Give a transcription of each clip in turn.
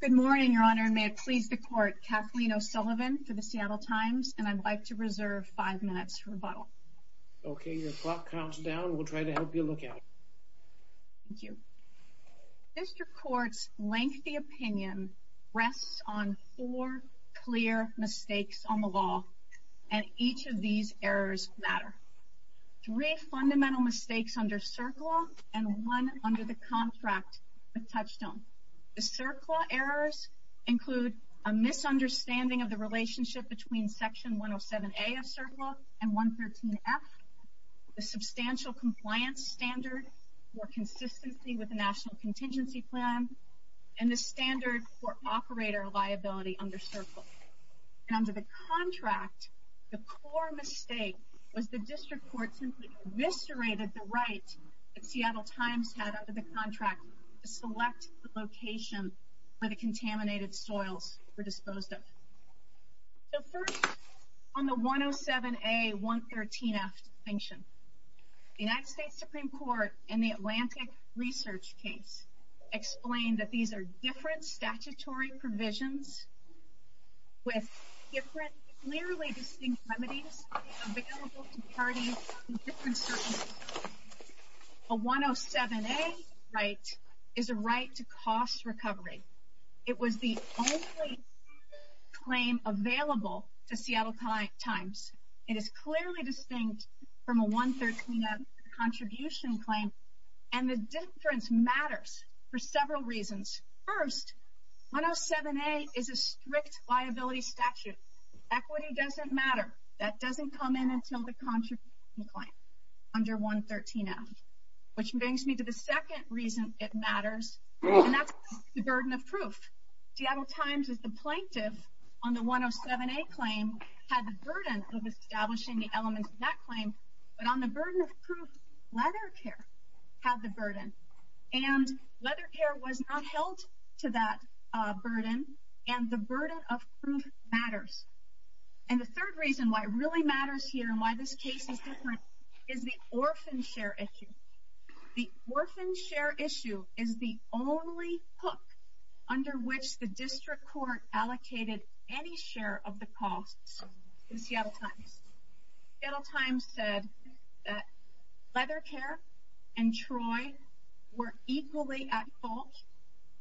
Good morning, Your Honor. May it please the Court, Kathleen O'Sullivan for the Seattle Times, and I'd like to reserve five minutes to rebuttal. Okay, your clock counts down. We'll try to help you look out. Thank you. District Court's lengthy opinion rests on four clear mistakes on the law, and each of these errors matter. Three fundamental mistakes under CERCLA and one under the contract with Touchstone. The CERCLA errors include a misunderstanding of the relationship between Section 107A of CERCLA and 113F, the substantial compliance standard for consistency with the National Contingency Plan, and the standard for operator liability under CERCLA. Under the contract, the core mistake was the District Court simply eviscerated the rights that Seattle Times had under the contract to select the location for the contaminated soils for disposal. So first, on the 107A-113F distinction, the United States Supreme Court, in the Atlantic Research case, explained that these are different statutory provisions with different clearly distinct remedies available to parties in different circumstances. A 107A right is a right to cost recovery. It was the only claim available to Seattle Times. It is clearly distinct from a 113F contribution claim, and the difference matters for several reasons. First, 107A is a strict liability statute. Equity doesn't matter. That doesn't come in until the contribution claim under 113F, which brings me to the second reason it matters, and that's the burden of proof. Seattle Times, as the plaintiff on the 107A claim, had the burden of establishing the elements of that claim, but on the burden of proof, Leathercare had the burden. And Leathercare was not held to that burden, and the burden of proof matters. And the third reason why it really matters here and why this case is different is the orphan share issue. The orphan share issue is the only hook under which the district court allocated any share of the cost to Seattle Times. Seattle Times said that Leathercare and Troy were equally at fault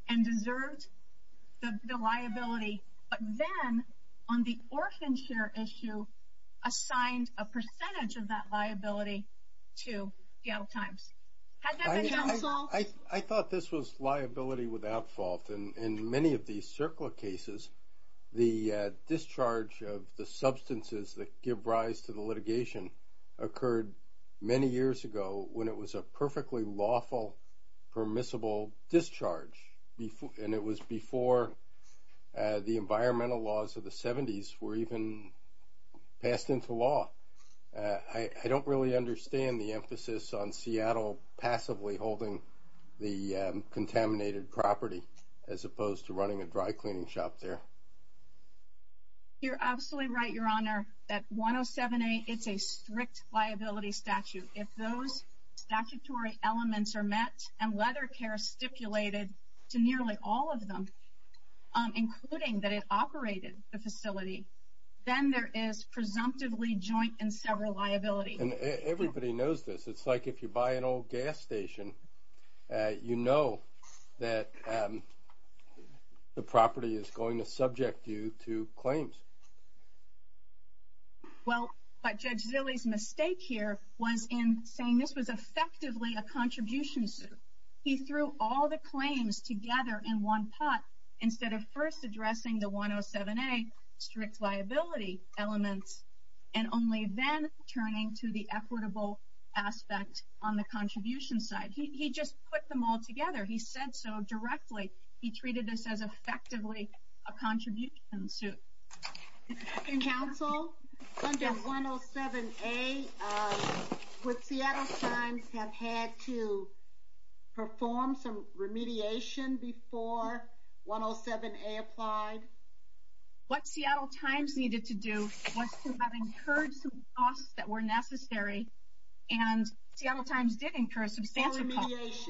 and deserved the liability, but then on the orphan share issue assigned a percentage of that liability to Seattle Times. Has that been at fault? In many of these circular cases, the discharge of the substances that give rise to the litigation occurred many years ago when it was a perfectly lawful, permissible discharge, and it was before the environmental laws of the 70s were even passed into law. I don't really understand the emphasis on Seattle passively holding the contaminated property as opposed to running a dry cleaning shop there. You're absolutely right, Your Honor, that 107A is a strict liability statute. If those statutory elements are met and Leathercare stipulated to nearly all of them, including that it operated the facility, then there is presumptively joint and several liabilities. Everybody knows this. It's like if you buy an old gas station, you know that the property is going to subject you to claims. Well, Judge Zille's mistake here was in saying this was effectively a contribution suit. He threw all the claims together in one pot instead of first addressing the 107A strict liability element and only then turning to the equitable aspect on the contribution side. He just put them all together. He said so directly. He treated this as effectively a contribution suit. In counsel, under 107A, would Seattle Times have had to perform some remediation before 107A applied? What Seattle Times needed to do was to have incurred some costs that were necessary, and Seattle Times did incur some standard costs.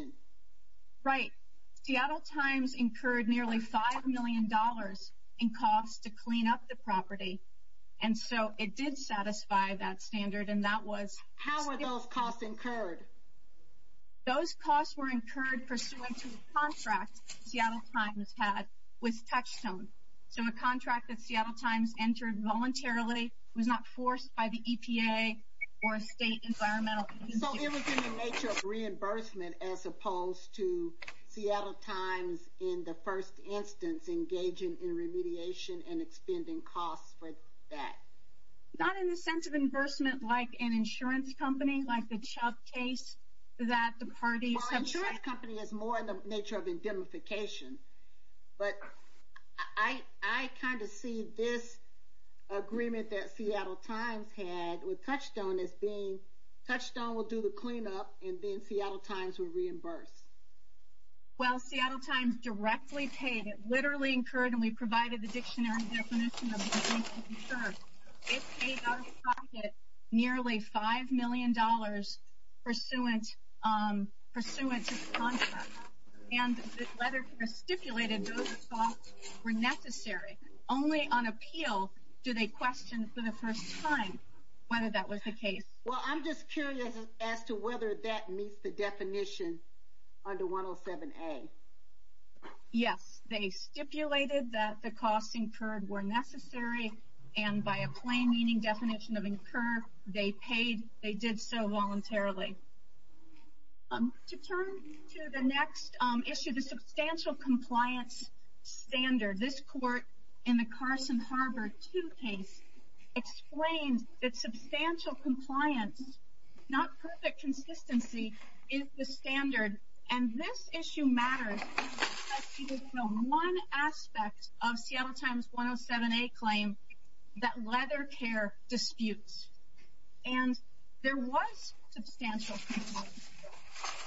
Right. Seattle Times incurred nearly $5 million in costs to clean up the property, and so it did satisfy that standard, and that was... How were those costs incurred? Those costs were incurred pursuant to the contract Seattle Times had with Textham. So a contract that Seattle Times entered voluntarily was not forced by the EPA or a state environmental... So it was in the nature of reimbursement as opposed to Seattle Times in the first instance engaging in remediation and expending costs for that. Not in the sense of reimbursement like an insurance company, like the Chuck case that the parties... Well, an insurance company is more in the nature of indemnification, but I kind of see this agreement that Seattle Times had with Textham as being Textham will do the cleanup, and then Seattle Times will reimburse. Well, Seattle Times directly paid. It literally incurred, and we provided the dictionary definition of... It paid out of pocket nearly $5 million pursuant to the contract, and this letter stipulated those costs were necessary. Only on appeal do they question for the first time whether that was the case. Well, I'm just curious as to whether that meets the definition under 107A. Yes. They stipulated that the costs incurred were necessary, and by a plain meaning definition of incurred, they paid... They did so voluntarily. To turn to the next issue, the substantial compliance standard. This court in the Carson-Harvard 2 case explained that substantial compliance, not perfect consistency, is the standard, and this issue matters. One aspect of Seattle Times 107A claim that leather care disputes, and there was substantial compliance.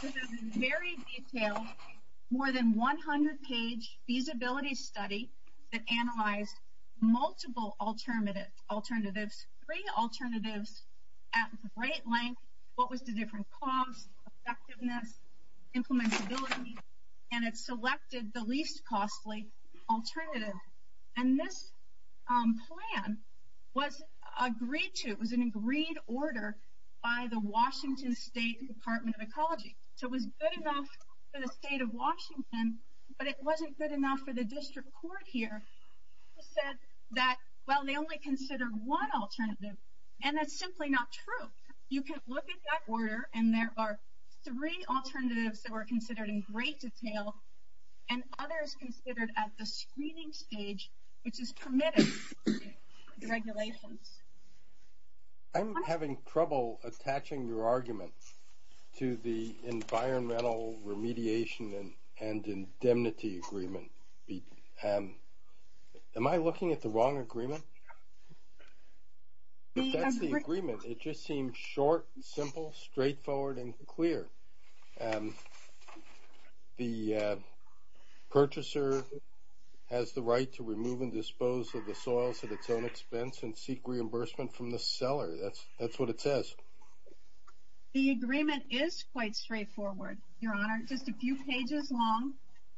This is a very detailed, more than 100-page feasibility study that analyzed multiple alternatives, three alternatives at great length. What was the different cost, effectiveness, implementability, and it selected the least costly alternative, and this plan was agreed to. So it was good enough for the state of Washington, but it wasn't good enough for the district court here. It said that, well, they only considered one alternative, and that's simply not true. You can look at that order, and there are three alternatives that were considered in great detail, and others considered at the screening stage, which is permitted regulations. I'm having trouble attaching your argument to the environmental remediation and indemnity agreement. Am I looking at the wrong agreement? That's the agreement. It just seems short, simple, straightforward, and clear. The purchaser has the right to remove and dispose of the soil at its own expense and seek reimbursement from the seller. That's what it says. The agreement is quite straightforward, Your Honor. It's just a few pages long,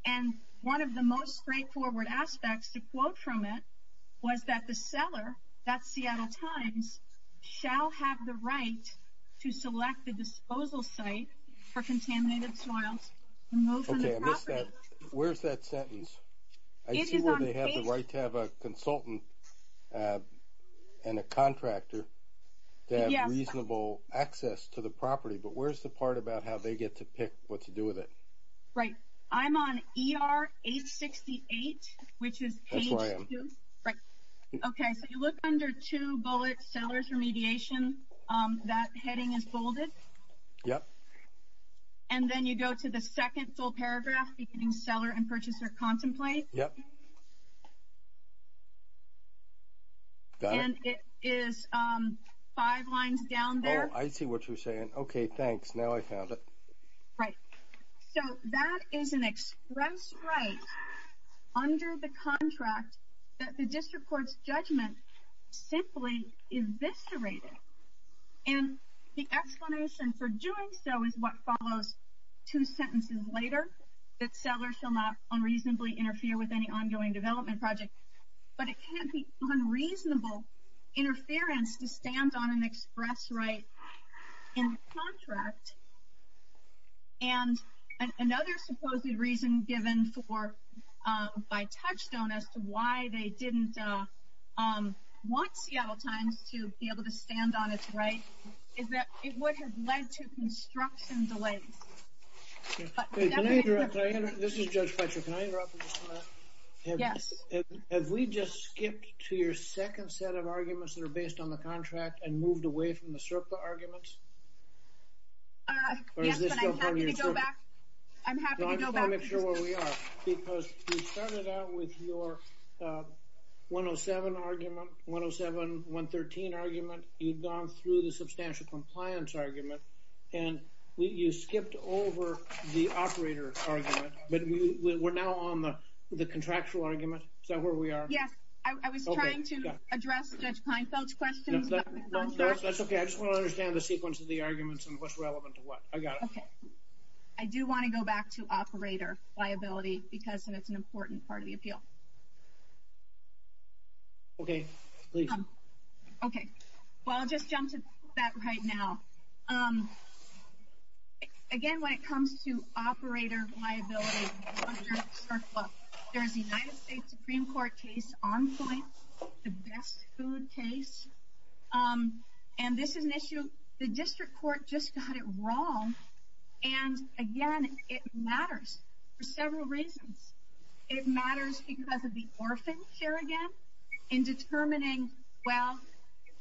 and one of the most straightforward aspects to quote from it was that the seller, that's The Seattle Times, shall have the right to select a disposal site for contaminated soil and move from the property. Okay, I missed that. Where's that sentence? I see where they have the right to have a consultant and a contractor to have reasonable access to the property, but where's the part about how they get to pick what to do with it? Right. I'm on ER 868, which is page 2. That's where I am. Right. Okay. If you look under two bullets, seller's remediation, that heading is folded. Yep. And then you go to the second full paragraph, beginning seller and purchaser contemplate. Yep. And it is five lines down there. I see what you're saying. Okay, thanks. Now I found it. Right. So that is an express right under the contract that the district court's judgment simply eviscerated. And the explanation for doing so is what follows. Two sentences later, the seller shall not unreasonably interfere with any ongoing development project. But it can't be unreasonable interference to stand on an express right in contract. And another supposed reason given for by touchstone as to why they didn't want Seattle Times to be able to stand on its right is that it would have led to construction delays. This is Judge Fletcher. Can I interrupt for just a minute? Yes. Have we just skipped to your second set of arguments that are based on the contract and moved away from the CERPA arguments? Yes, but I'm happy to go back. I'm happy to go back. I just want to make sure where we are. Because we started out with your 107 argument, 107, 113 argument. You've gone through the substantial compliance argument. And you skipped over the operator argument. But we're now on the contractual argument. Is that where we are? Yes. I was trying to address Judge Kleinfeld's question. That's okay. I just want to understand the sequence of the arguments and what's relevant to what. I got it. Okay. I do want to go back to operator liability because it is an important part of the appeal. Okay. Please. Okay. Well, I'll just jump to that right now. Again, when it comes to operator liability, first of all, there's the United States Supreme Court case on choice, the best food case. And this is an issue. The district court just got it wrong. And, again, it matters for several reasons. It matters because of the orphans here, again, in determining, well,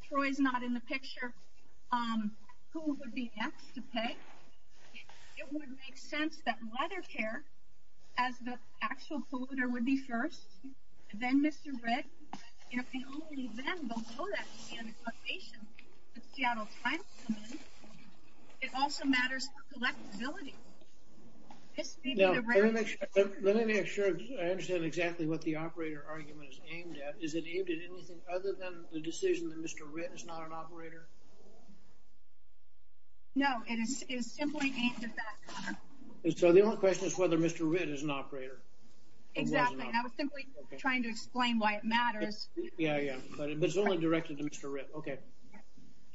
Troy's not in the picture, who would be next to pay. It would make sense that leather care, as the actual polluter would be first, then Mr. Red. If the only men don't know that to be under cultivation, the Seattle Times, it also matters for selectability. Let me make sure I understand exactly what the operator argument is aimed at. Is it aimed at anything other than the decision that Mr. Red is not an operator? No, it is simply aimed at that. So the only question is whether Mr. Red is an operator. Exactly. I was simply trying to explain why it matters. Yeah, yeah. But it's only directed to Mr. Red. Okay.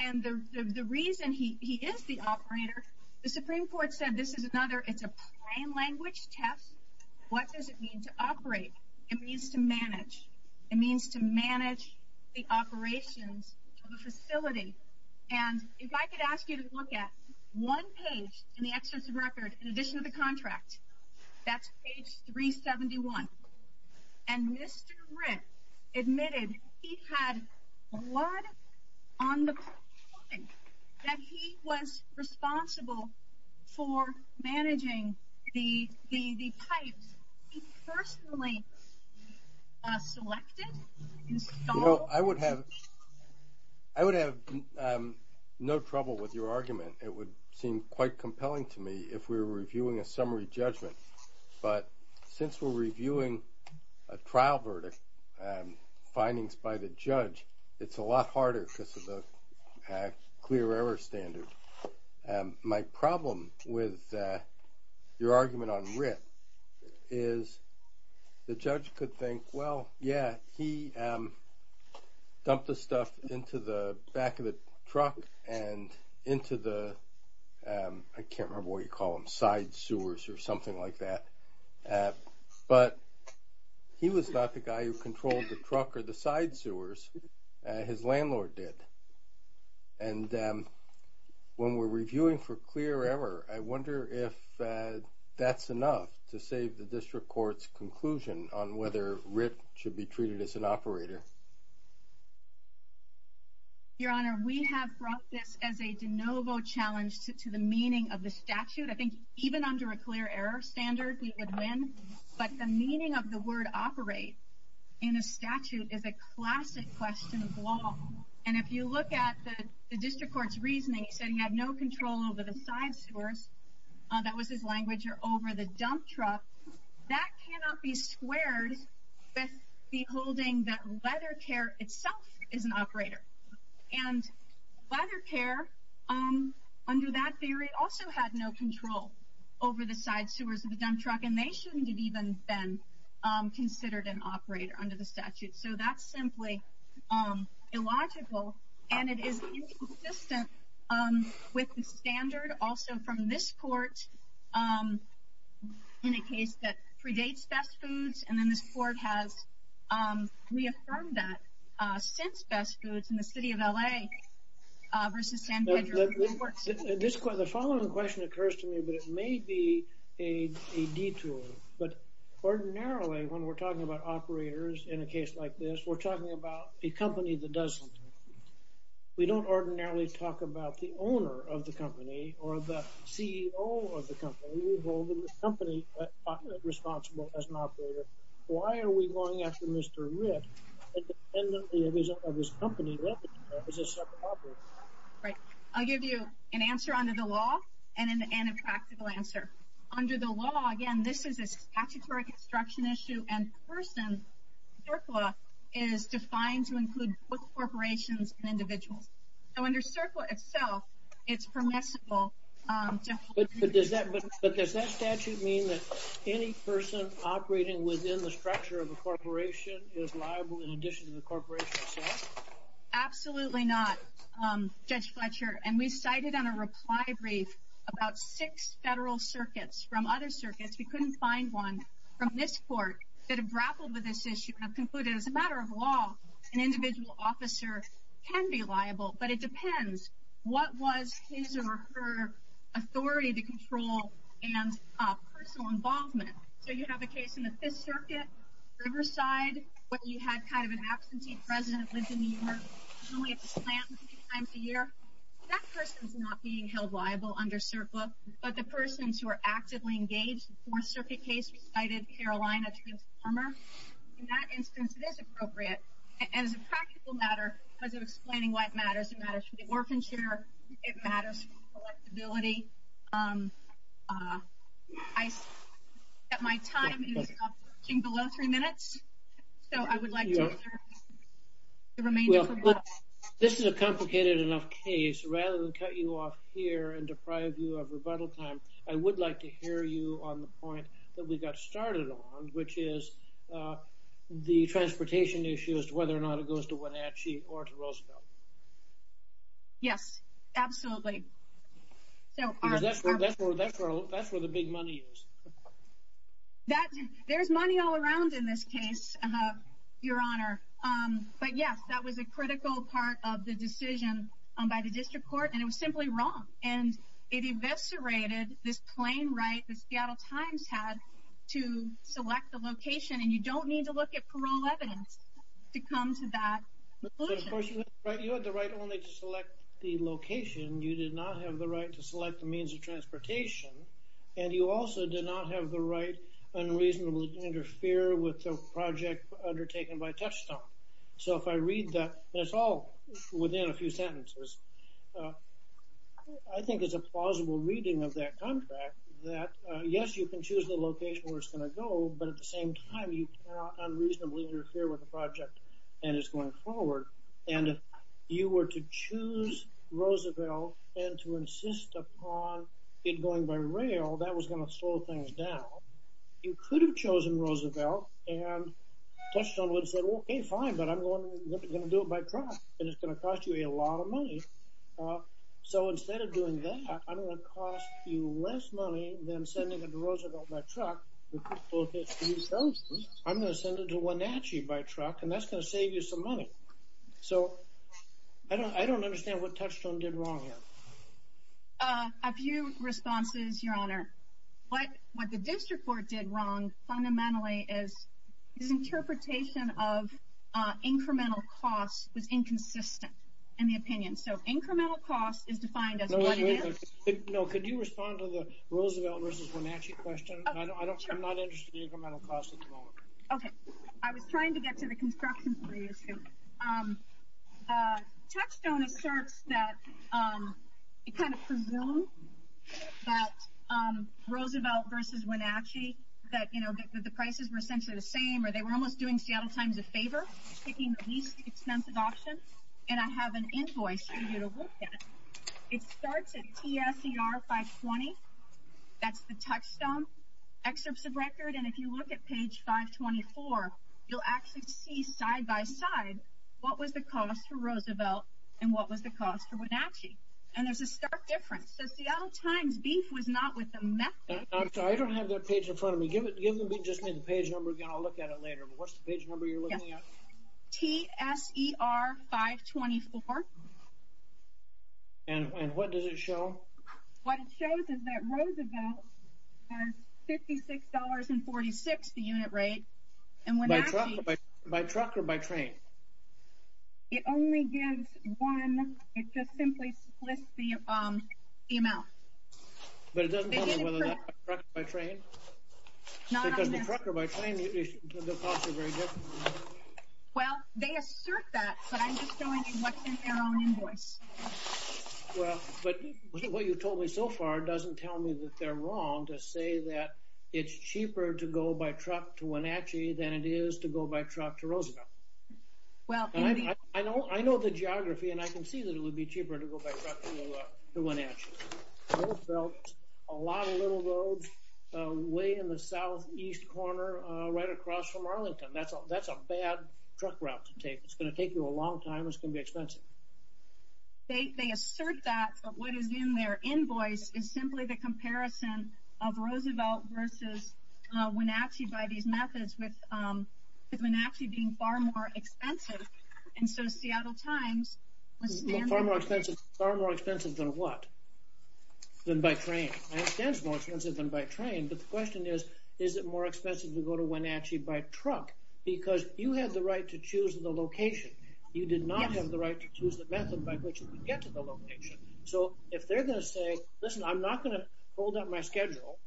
And the reason he is the operator, the Supreme Court said this is another, it's a plain language test. What does it mean to operate? It means to manage. It means to manage the operation of a facility. And if I could ask you to look at one page in the access record in addition to the contract, that's page 371. And Mr. Red admitted he had blood on the point that he was responsible for managing the pipes. He personally selected and installed the pipes. Well, I would have no trouble with your argument. It would seem quite compelling to me if we were reviewing a summary judgment. But since we're reviewing a trial verdict and findings by the judge, it's a lot harder because of the clear error standard. My problem with your argument on RIT is the judge could think, well, yeah, he dumped the stuff into the back of the truck and into the, I can't remember what you call them, side sewers or something like that. But he was not the guy who controlled the truck or the side sewers. His landlord did. And when we're reviewing for clear error, I wonder if that's enough to save the district court's conclusion on whether RIT should be treated as an operator. Your Honor, we have brought this as a de novo challenge to the meaning of the statute. I think even under a clear error standard, we would win. But the meaning of the word operate in a statute is a classic question of law. And if you look at the district court's reasoning, it said he had no control over the side sewers, that was his language, or over the dump truck. That cannot be squared with beholding that leather care itself is an operator. And leather care under that theory also had no control over the side sewers of the dump truck. And they shouldn't have even been considered an operator under the statute. So that's simply illogical. And it is inconsistent with the standard also from this court in a case that predates Best Foods. And then this court has reaffirmed that since Best Foods in the city of L.A. versus San Diego. The following question occurs to me, but it may be a detour. But ordinarily, when we're talking about operators in a case like this, we're talking about a company that doesn't. We don't ordinarily talk about the owner of the company or the CEO of the company. We hold the company responsible as an operator. Why are we going after Mr. Ritz? Independently of his company, what is a separate operator? Right. I'll give you an answer under the law and a practical answer. Under the law, again, this is a statutory construction issue. And person, CERCLA, is defined to include both corporations and individuals. So under CERCLA itself, it's permissible. But does that statute mean that any person operating within the structure of the corporation is liable in addition to the corporation itself? Absolutely not, Judge Fletcher. And we cited on a reply brief about six federal circuits from other circuits. We couldn't find one from this court that have grappled with this issue and have concluded, as a matter of law, an individual officer can be liable. But it depends what was his or her authority to control and personal involvement. So you have a case in the Fifth Circuit, Riverside, where you have kind of an absentee president who lives in New York, only at the plant three times a year. That person is not being held liable under CERCLA. But the persons who are actively engaged in the Fourth Circuit case, we cited Carolina transformer. In that instance, it is appropriate. And as a practical matter, as we're explaining why it matters, it matters for the work and share. It matters for the flexibility. My time is approaching below three minutes. So I would like to remain. This is a complicated enough case. Rather than cut you off here and deprive you of rebuttal time, I would like to hear you on the point that we got started on, which is the transportation issues, whether or not it goes to Wenatchee or to Roosevelt. Yes, absolutely. That's where the big money is. There's money all around in this case, Your Honor. But, yes, that was a critical part of the decision by the district court. And it was simply wrong. And it eviscerated this plain right the Seattle Times had to select the location. And you don't need to look at parole evidence to come to that conclusion. You had the right only to select the location. You did not have the right to select the means of transportation. And you also did not have the right unreasonable to interfere with the project undertaken by touchstone. So if I read that, it's all within a few sentences. I think it's a plausible reading of that contract that, yes, you can choose the location where it's going to go, but at the same time, you cannot unreasonably interfere with the project that is going forward. And if you were to choose Roosevelt and to insist upon it going by rail, that was going to slow things down. You could have chosen Roosevelt, and touchstone would have said, okay, fine, but I'm going to do it by truck. And it's going to cost you a lot of money. So instead of doing that, I'm going to cost you less money than sending it to Roosevelt by truck. I'm going to send it to Wenatchee by truck, and that's going to save you some money. So I don't understand what touchstone did wrong here. A few responses, Your Honor. What the district court did wrong fundamentally is the interpretation of incremental cost was inconsistent in the opinion. So incremental cost is defined as what it is. No, could you respond to the Roosevelt versus Wenatchee question? I'm not interested in incremental cost at this moment. Okay. I was trying to get to the construction fee issue. Touchstone asserts that it kind of presumes that Roosevelt versus Wenatchee, that the prices were essentially the same, or they were almost doing Seattle Times a favor, picking the least expensive option. And I have an invoice for you to look at. It starts at PSER 520. That's the touchstone. And if you look at page 524, you'll actually see side-by-side what was the cost to Roosevelt and what was the cost to Wenatchee. And there's a stark difference. So Seattle Times beef was not with them. I don't have that page in front of me. Give me just the page number again. I'll look at it later. What's the page number you're looking at? PSER 524. And what does it show? What it shows is that Roosevelt has $56.46, the unit rate, and Wenatchee. By truck or by train? It only gives one. It just simply lists the amount. But it doesn't tell me whether it's by truck or by train. It's not on there. If it's by truck or by train, it doesn't cost you very much. Well, they assert that, but I'm just showing you what's in our own invoice. But what you've told me so far doesn't tell me that they're wrong to say that it's cheaper to go by truck to Wenatchee than it is to go by truck to Roosevelt. I know the geography, and I can see that it would be cheaper to go by truck to Wenatchee. Roosevelt, a lot of little roads, way in the southeast corner right across from Arlington. That's a bad truck route to take. It's going to take you a long time. It's going to be expensive. They assert that, but what is in their invoice is simply the comparison of Roosevelt versus Wenatchee by these methods, with Wenatchee being far more expensive. And so, Seattle Times... Far more expensive than what? Than by train. It is more expensive than by train, but the question is, is it more expensive to go to Wenatchee by truck? Because you had the right to choose the location. You did not have the right to choose the method by which you could get to the location. So, if they're going to say, listen, I'm not going to hold up my schedule,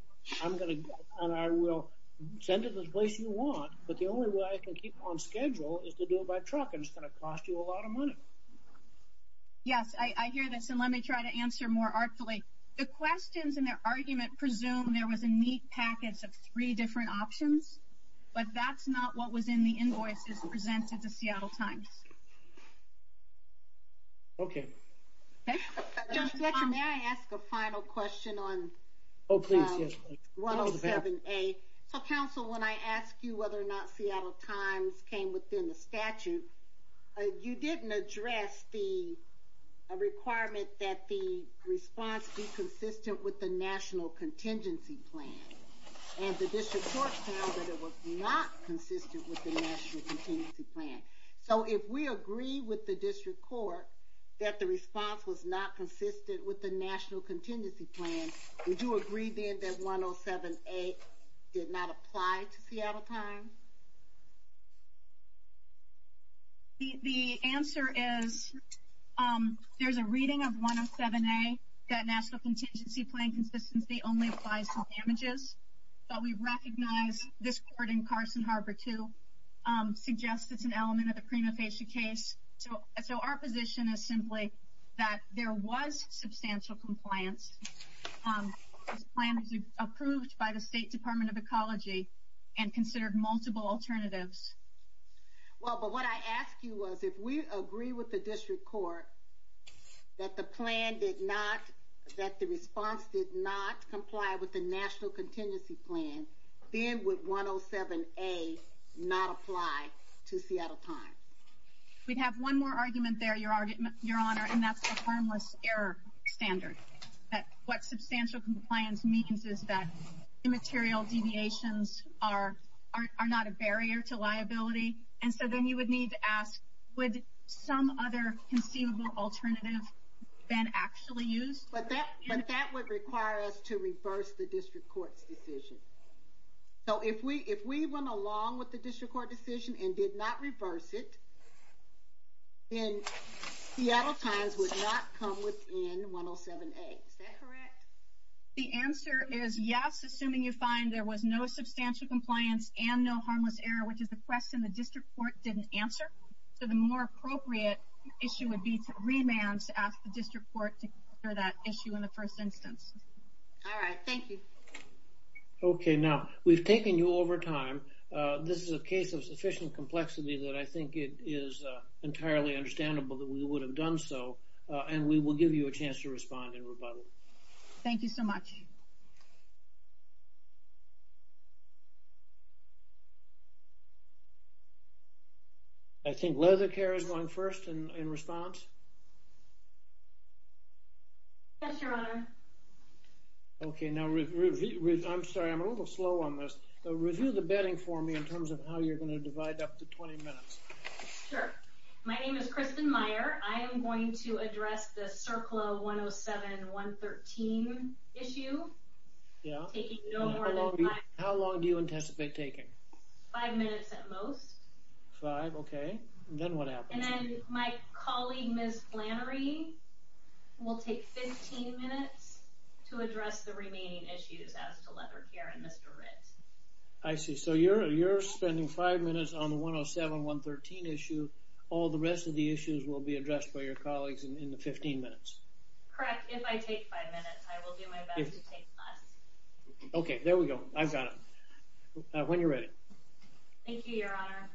and I will send it to the place you want, but the only way I can keep on schedule is to do it by truck, and it's going to cost you a lot of money. Yes, I hear this, and let me try to answer more artfully. The questions in their argument presume there was a neat package of three different options, but that's not what was in the invoice that was presented to Seattle Times. Okay. May I ask a final question on 107A? Counsel, when I asked you whether or not Seattle Times came within the statute, you didn't address the requirement that the response be consistent with the National Contingency Plan. And the district court found that it was not consistent with the National Contingency Plan. So, if we agree with the district court that the response was not consistent with the National Contingency Plan, would you agree then that 107A did not apply to Seattle Times? The answer is there's a reading of 107A that National Contingency Plan consistency only applies to damages. But we recognize this court in Carson Harbor, too, suggests it's an element of the Crenofacia case. So, our position is simply that there was substantial compliance. The plan was approved by the State Department of Ecology and considered multiple alternatives. Well, but what I asked you was, if we agree with the district court that the response did not comply with the National Contingency Plan, then would 107A not apply to Seattle Times? We have one more argument there, Your Honor, and that's the harmless error standard. What substantial compliance means is that immaterial deviations are not a barrier to liability. And so then you would need to ask, would some other conceivable alternative then actually use? But that would require us to reverse the district court's decision. So, if we went along with the district court decision and did not reverse it, then Seattle Times would not come within 107A. Is that correct? The answer is yes, assuming you find there was no substantial compliance and no harmless error, which is a question the district court didn't answer. So, the more appropriate issue would be to remand to ask the district court for that issue in the first instance. All right. Thank you. Okay. Now, we've taken you over time. This is a case of sufficient complexity that I think it is entirely understandable that we would have done so, and we will give you a chance to respond in rebuttal. Thank you so much. I think Leather Care is going first in response. Yes, Your Honor. Okay. Now, I'm sorry. I'm a little slow on this. Review the bedding for me in terms of how you're going to divide up the 20 minutes. Sure. My name is Kristen Meyer. I am going to address the CERCLA 107-113 issue. Yeah. How long do you anticipate taking? Five minutes at most. Five. Okay. Then what happens? And then my colleague, Ms. Flannery, will take 15 minutes to address the remaining issues as to Leather Care and Mr. Ridd. I see. So, you're spending five minutes on the 107-113 issue. All the rest of the issues will be addressed by your colleagues in the 15 minutes. Correct. If I take five minutes, I will do my best to take five. Okay. There we go. I've got it. When you're ready. Thank you, Your Honor.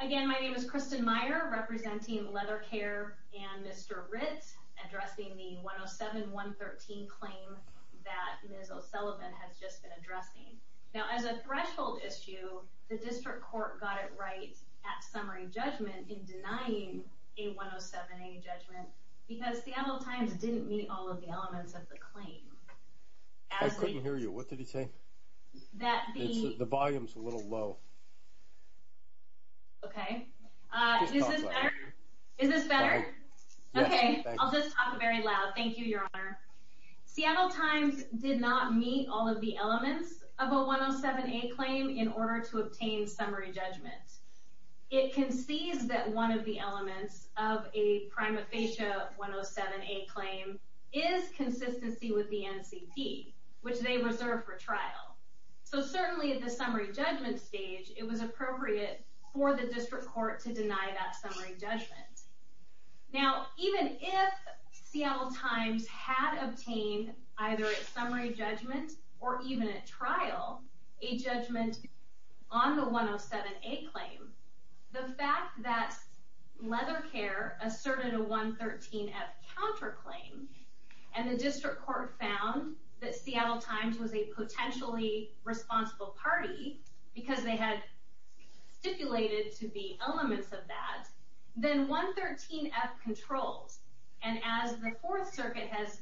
Again, my name is Kristen Meyer, representing Leather Care and Mr. Ridd, addressing the 107-113 claim that Ms. O'Sullivan has just been addressing. Now, as a threshold issue, the district court got it right at summary judgment in denying a 107-80 judgment because the Seattle Times didn't meet all of the elements of the claim. I couldn't hear you. What did he say? The volume's a little low. Okay. Is this better? Is this better? Okay. I'll just talk very loud. Thank you, Your Honor. Seattle Times did not meet all of the elements of a 107-A claim in order to obtain summary judgment. It concedes that one of the elements of a prima facie 107-A claim is consistency with the NCP, which they reserve for trial. So certainly at the summary judgment stage, it was appropriate for the district court to deny that summary judgment. Now, even if Seattle Times had obtained, either at summary judgment or even at trial, a judgment on the 107-A claim, the fact that Leather Care asserted a 113-F counterclaim, and the district court found that Seattle Times was a potentially responsible party because they had stipulated to the elements of that, then 113-F controls, and as the Fourth Circuit has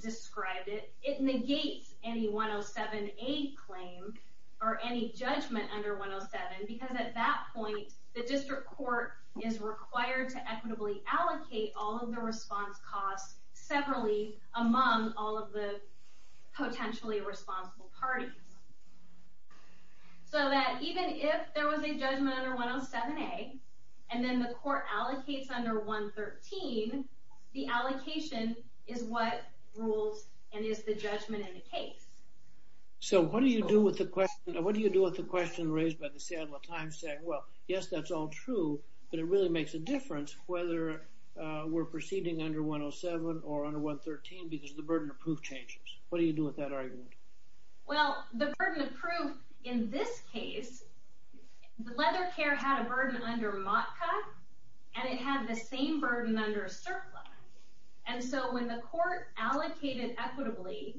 described it, it negates any 107-A claim or any judgment under 107 because at that point, the district court is required to equitably allocate all of the response costs separately among all of the potentially responsible parties. So that even if there was a judgment under 107-A, and then the court allocates under 113, the allocation is what rules and is the judgment in the case. So what do you do with the question raised by the Seattle Times saying, well, yes, that's all true, but it really makes a difference whether we're proceeding under 107 or under 113 because the burden of proof changes. What do you do with that argument? Well, the burden of proof in this case, Leather Care had a burden under MOTCA, and it had the same burden under a surplus. And so when the court allocated equitably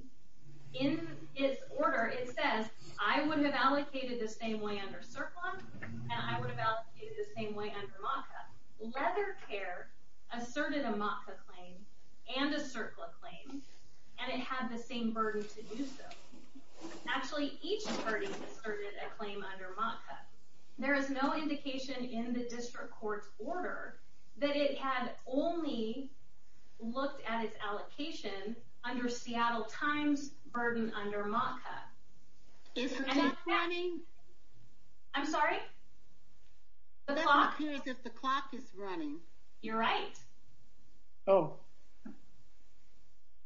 in its order, it said, I would have allocated the same way under surplus, and I would have allocated the same way under MOTCA. Leather Care asserted a MOTCA claim and a surplus claim, and it had the same burden to do so. Actually, each party asserted a claim under MOTCA. There is no indication in the district court's order that it had only looked at its allocation under Seattle Times' burden under MOTCA. Is the clock running? I'm sorry? The clock is running. You're right. Oh.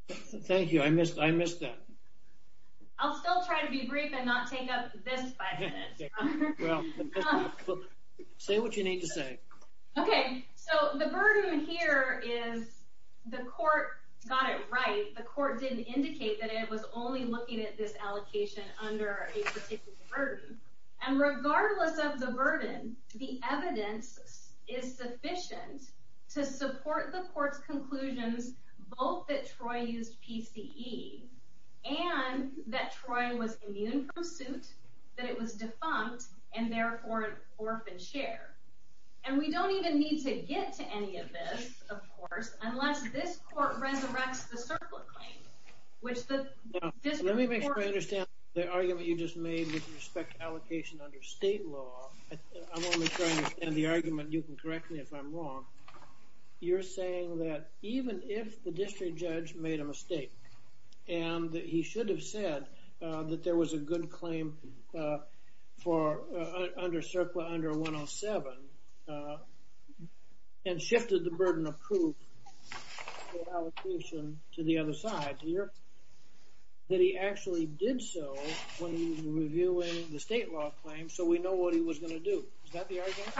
Thank you. I missed that. I'll still try to be brief and not take up this five minutes. Say what you need to say. Okay. So the burden here is the court got it right. The court didn't indicate that it was only looking at this allocation under a particular burden. And regardless of the burden, the evidence is sufficient to support the court's conclusion both that Troy used PCE and that Troy was immune from suits, that it was defunct, and therefore orphaned share. And we don't even need to get to any of this, of course, unless this court resurrects the surplus claim. Let me make sure I understand the argument you just made with respect to allocation under state law. I want to make sure I understand the argument. You can correct me if I'm wrong. You're saying that even if the district judge made a mistake and he should have said that there was a good claim for under CERCLA under 107 and shifted the burden of proof to the other side here, that he actually did so when he was reviewing the state law claim so we know what he was going to do. Is that the argument?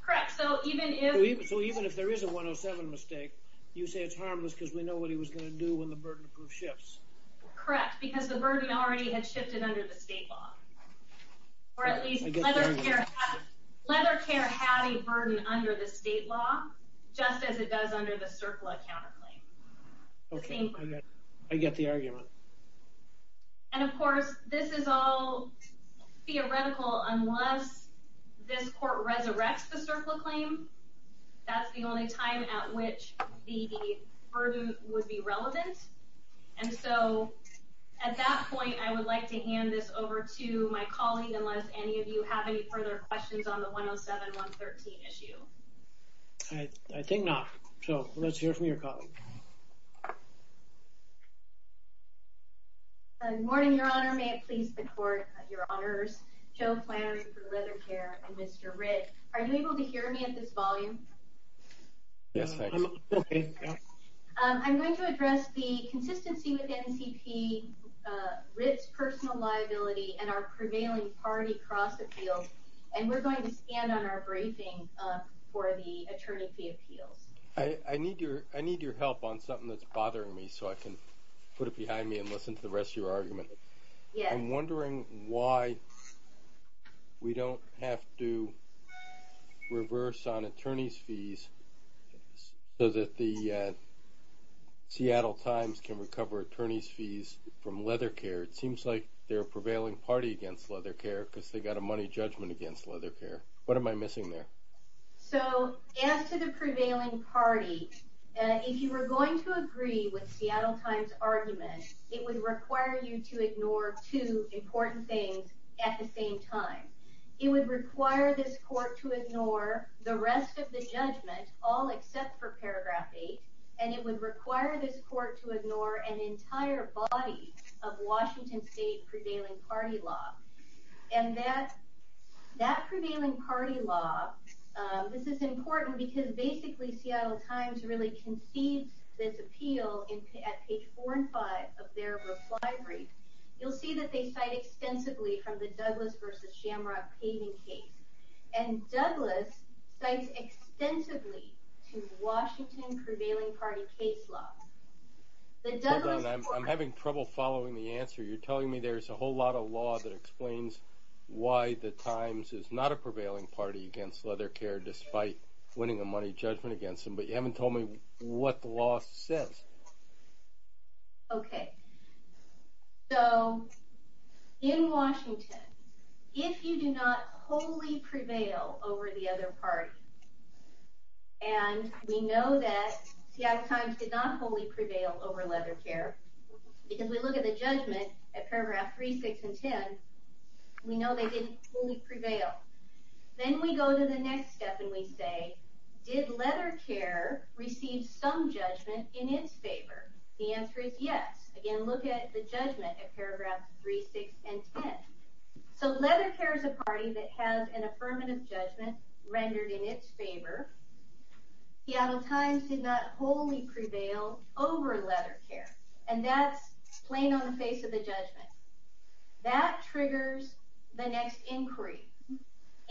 Correct. So even if there is a 107 mistake, you say it's harmless because we know what he was going to do when the burden of proof shifts. Correct, because the burden already has shifted under the state law. Or at least leather care had a burden under the state law just as it does under the CERCLA counterclaim. Okay, I get the argument. And of course, this is all theoretical unless this court resurrects the CERCLA claim, that's the only time at which the burden would be relevant. And so at that point, I would like to hand this over to my colleague unless any of you have any further questions on the 107-113 issue. I think not. So let's hear from your colleague. Good morning, Your Honor. May I please support Your Honors Joe Flannery for leather care and Mr. Ritt. Are you able to hear me at this volume? Yes, I can. I'm going to address the consistency with NPP, Ritt's personal liability, and our prevailing party cross-appeals. And we're going to stand on our bracing for the attorney's appeal. I need your help on something that's bothering me so I can put it behind me and listen to the rest of your argument. I'm wondering why we don't have to reverse on attorney's fees so that the Seattle Times can recover attorney's fees from leather care. It seems like they're a prevailing party against leather care because they've got a money judgment against leather care. What am I missing there? So as to the prevailing party, if you were going to agree with Seattle Times' argument, it would require you to ignore two important things at the same time. It would require this court to ignore the rest of the judgment, all except for paragraph 8. And it would require this court to ignore an entire body of Washington State prevailing party law. And that prevailing party law, this is important because basically Seattle Times really concedes this appeal at page 4 and 5 of their reply brief. You'll see that they cite extensively from the Douglas v. Shamrock caving case. And Douglas cites extensively from Washington prevailing party case law. Hold on, I'm having trouble following the answer. You're telling me there's a whole lot of law that explains why the Times is not a prevailing party against leather care despite winning a money judgment against them. But you haven't told me what the law says. Okay, so in Washington, if you do not wholly prevail over the other party, and we know that Seattle Times did not wholly prevail over leather care, because we look at the judgment at paragraph 3, 6, and 10, we know they didn't fully prevail. Then we go to the next step and we say, did leather care receive some judgment in its favor? The answer is yes. Again, look at the judgment at paragraph 3, 6, and 10. So leather care is a party that has an affirmative judgment rendered in its favor. Seattle Times did not wholly prevail over leather care. And that's plain on the face of the judgment. That triggers the next inquiry.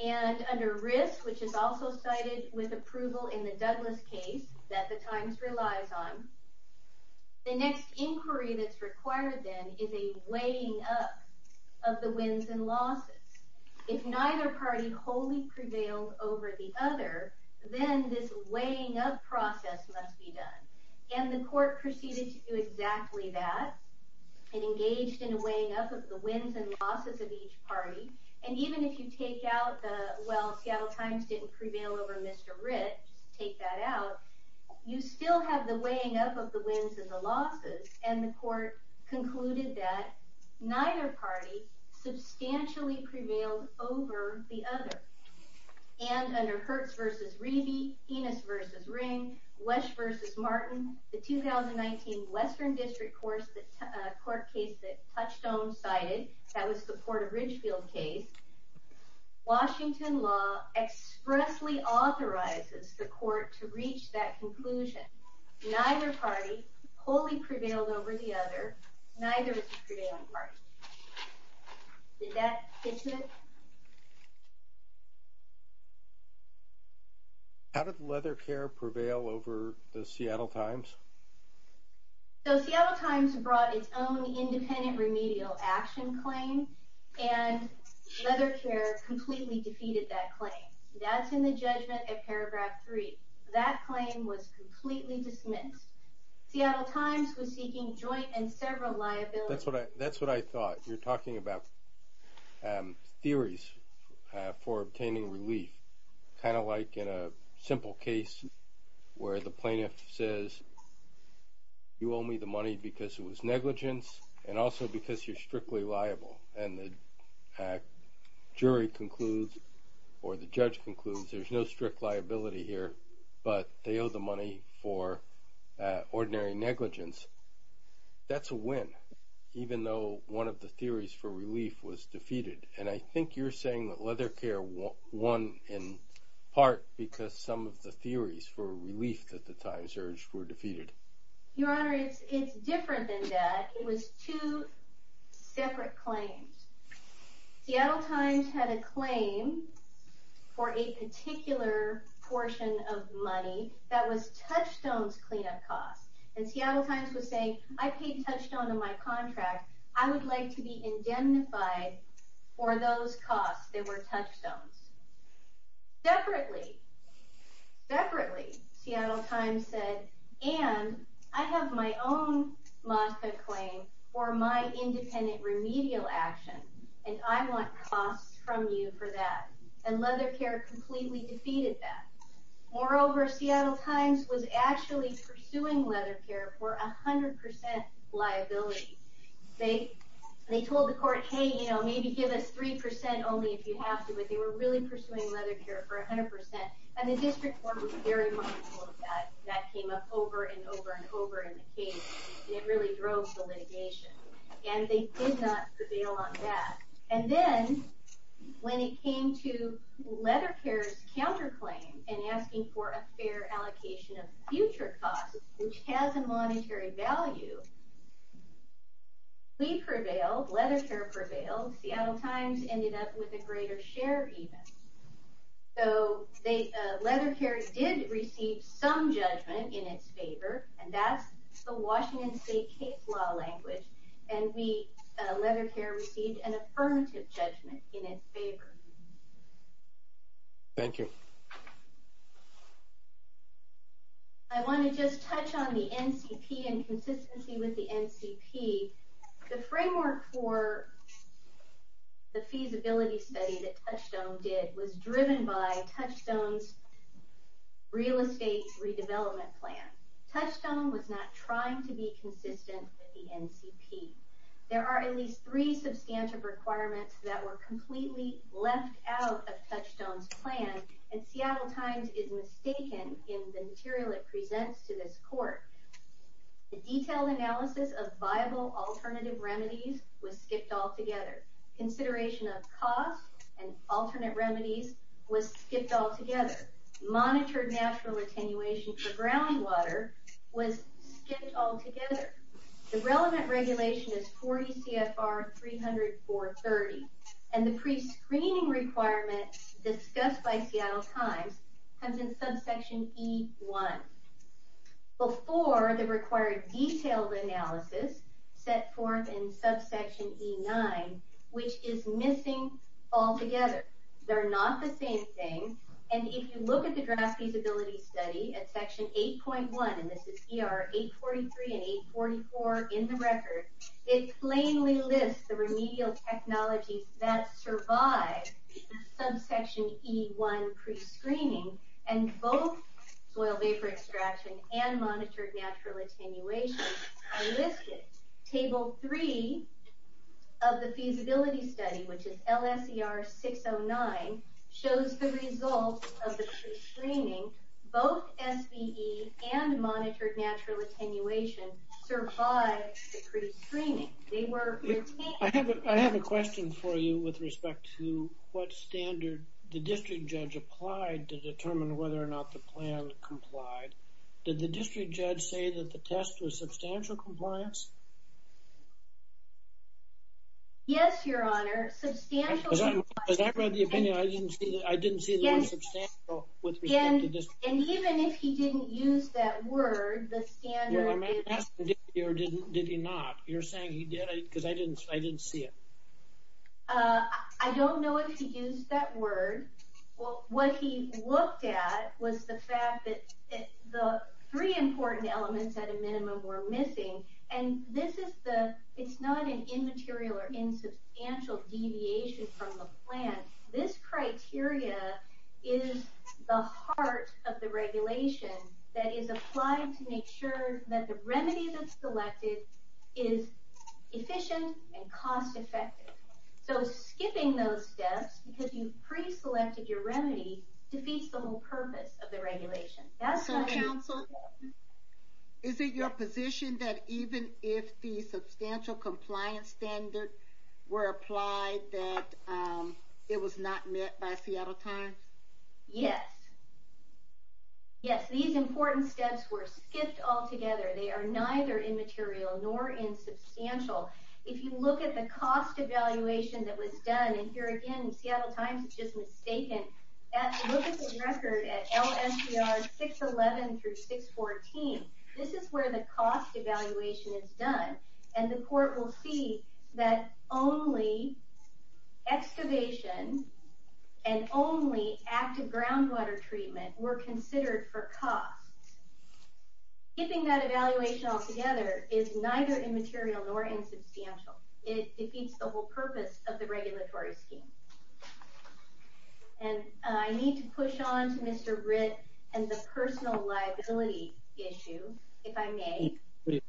And under RIF, which is also cited with approval in the Douglas case that the Times relies on, the next inquiry that's required then is a weighing up of the wins and losses. If neither party wholly prevailed over the other, then this weighing up process must be done. And the court proceeded to do exactly that and engaged in the weighing up of the wins and losses of each party. And even if you take out the, well, Seattle Times didn't prevail over Mr. Rich, take that out, you still have the weighing up of the wins and the losses. And the court concluded that neither party substantially prevailed over the other. And under Hertz v. Reedy, Enos v. Ring, Wesch v. Martin, the 2019 Western District Court case that Touchstone cited, that was the Porter-Ridgefield case, Washington law expressly authorizes the court to reach that conclusion. Neither party wholly prevailed over the other, neither is a prevailing party. Did that fit you? How did Leather Care prevail over the Seattle Times? So Seattle Times brought its own independent remedial action claim, and Leather Care completely defeated that claim. That's in the judgment at paragraph 3. That claim was completely dismissed. Seattle Times was seeking joint and federal liability. That's what I thought. You're talking about theories for obtaining relief, kind of like in a simple case where the plaintiff says you owe me the money because it was negligence and also because you're strictly liable. And the jury concludes or the judge concludes there's no strict liability here, but they owe the money for ordinary negligence. That's a win, even though one of the theories for relief was defeated. And I think you're saying that Leather Care won in part because some of the theories for relief at the time were defeated. Your Honor, it's different than that. It was two separate claims. Seattle Times had a claim for a particular portion of money that was Touchstone's cleanup cost. And Seattle Times would say, I paid Touchstone in my contract. I would like to be indemnified for those costs that were Touchstone's. Separately, Seattle Times said, and I have my own MASCA claim for my independent remedial action, and I want costs from you for that. And Leather Care completely defeated that. Moreover, Seattle Times was actually pursuing Leather Care for 100% liability. They told the court, hey, you know, maybe give us 3% only if you have to, but they were really pursuing Leather Care for 100%. And the district court was very mindful of that. That came up over and over and over in the case. And it really drove the litigation. And they did not prevail on that. And then when it came to Leather Care's counterclaim and asking for a fair allocation of future costs, which has a monetary value, we prevailed, Leather Care prevailed. Seattle Times ended up with a greater share even. So Leather Care did receive some judgment in its favor, and that's the Washington State case law language. And Leather Care received an affirmative judgment in its favor. Thank you. I want to just touch on the NCP and consistency with the NCP. The framework for the feasibility study that Touchstone did was driven by Touchstone's real estate redevelopment plan. Touchstone was not trying to be consistent with the NCP. There are at least three substantive requirements that were completely left out of Touchstone's plan, and Seattle Times is mistaken in the material it presents to this court. The detailed analysis of viable alternative remedies was skipped altogether. Consideration of costs and alternate remedies was skipped altogether. Monitored natural attenuation for groundwater was skipped altogether. The relevant regulation is 40 CFR 300-430, and the prescreening requirement discussed by Seattle Times has been subsection E-1. Before, the required detailed analysis set forth in subsection E-9, which is missing altogether. They're not the same thing. And if you look at the draft feasibility study at section 8.1, and this is ER 843 and 844 in the record, it plainly lists the remedial technologies that survive subsection E-1 prescreening, and both soil vapor extraction and monitored natural attenuation are listed. Table 3 of the feasibility study, which is LNCR 609, shows the results of the prescreening. Both SBE and monitored natural attenuation survived the prescreening. They were— I have a question for you with respect to what standard the district judge applied to determine whether or not the plan complied. Did the district judge say that the test was substantial compliance? Yes, Your Honor. Substantial compliance— Because I read the opinion, I didn't see that it was substantial with respect to district— Yes, and even if he didn't use that word, the standard is— No, I'm asking did he or did he not? You're saying he did because I didn't see it. I don't know if he used that word. Well, what he looked at was the fact that the three important elements at a minimum were missing, and this is the—it's not an immaterial or insubstantial deviation from the plan. This criteria is the heart of the regulation that is applied to make sure that the remedy that's selected is efficient and cost-effective. So skipping those steps because you've pre-selected your remedy defeats the whole purpose of the regulation. That's why— Counsel, is it your position that even if the substantial compliance standards were applied that it was not met by Seattle Times? Yes. Yes, these important steps were skipped altogether. They are neither immaterial nor insubstantial. If you look at the cost evaluation that was done—and here again, Seattle Times is just mistaken. Look at the record at LNCR 611 through 614. This is where the cost evaluation is done, and the court will see that only excavation and only active groundwater treatment were considered for cost. Skipping that evaluation altogether is neither immaterial nor insubstantial. It defeats the whole purpose of the regulatory scheme. And I need to push on to Mr. Ritt and the personal liability issue, if I may. Please.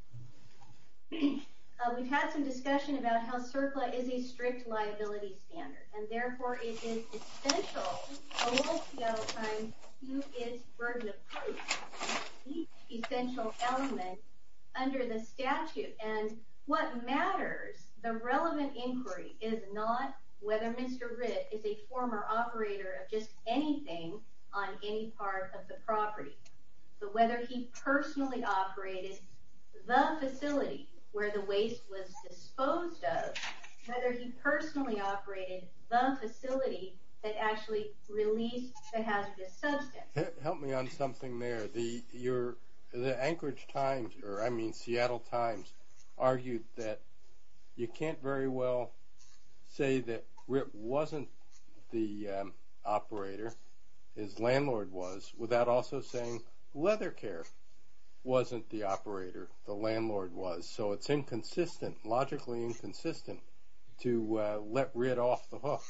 We've had some discussion about how CERCLA is a strict liability standard, and therefore it is essential for Seattle Times to use its burden of proof on each essential element under the statute. And what matters, the relevant inquiry, is not whether Mr. Ritt is a former operator of just anything on any part of the property, but whether he personally operated the facility where the waste was disposed of, whether he personally operated the facility that actually released the hazardous substance. Help me on something there. The Anchorage Times, or I mean Seattle Times, argued that you can't very well say that Ritt wasn't the operator, his landlord was, without also saying Leathercare wasn't the operator, the landlord was. So it's inconsistent, logically inconsistent, to let Ritt off the hook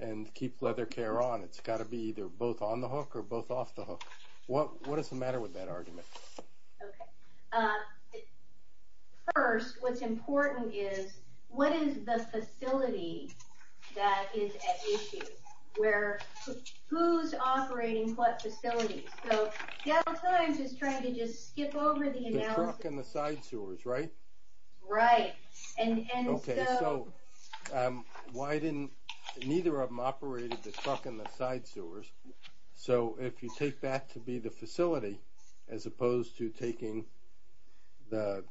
and keep Leathercare on. It's got to be either both on the hook or both off the hook. What is the matter with that argument? Okay. First, what's important is, what is the facility that is at issue? Where, who's operating what facility? So Seattle Times is trying to just skip over the analysis. The truck and the side sewers, right? Right. Okay, so why didn't, neither of them operated the truck and the side sewers. So if you take that to be the facility, as opposed to taking the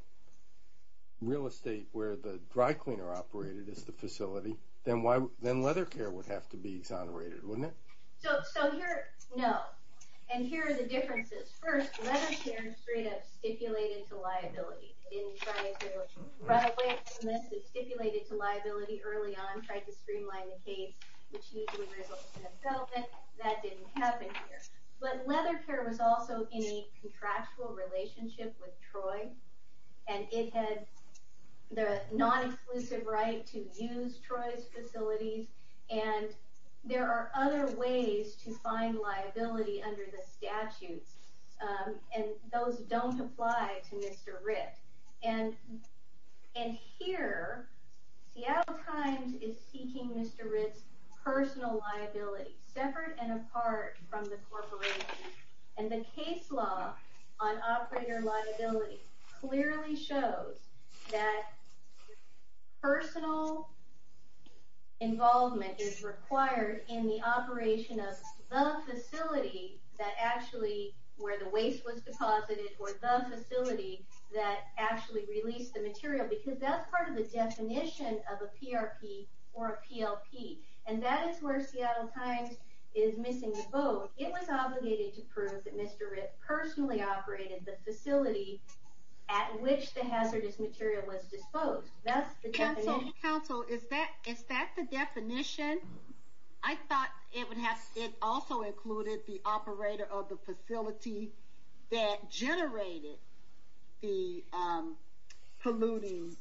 real estate where the dry cleaner operated as the facility, then Leathercare would have to be tolerated, wouldn't it? So here, no. First, Leathercare is free to stipulate it to liability. In trying to run away from this and stipulate it to liability early on, trying to streamline the case, which usually results in a settlement, that didn't happen here. But Leathercare was also in a contractual relationship with Troy. And it had the non-exclusive right to use Troy's facilities. And there are other ways to find liability under the statute. And those don't apply to Mr. Ritt. And here, Seattle Times is seeking Mr. Ritt's personal liability, separate and apart from the corporation. And the case law on operator liability clearly shows that personal involvement is required in the operation of the facility that actually, where the waste was deposited, or the facility that actually released the material. Because that's part of the definition of a PRP or a PLP. And that is where Seattle Times is missing a vote. It was obligated to prove that Mr. Ritt personally operated the facility at which the hazardous material was disposed. That's the definition. Counsel, is that the definition? I thought it also included the operator of the facility that generated the polluting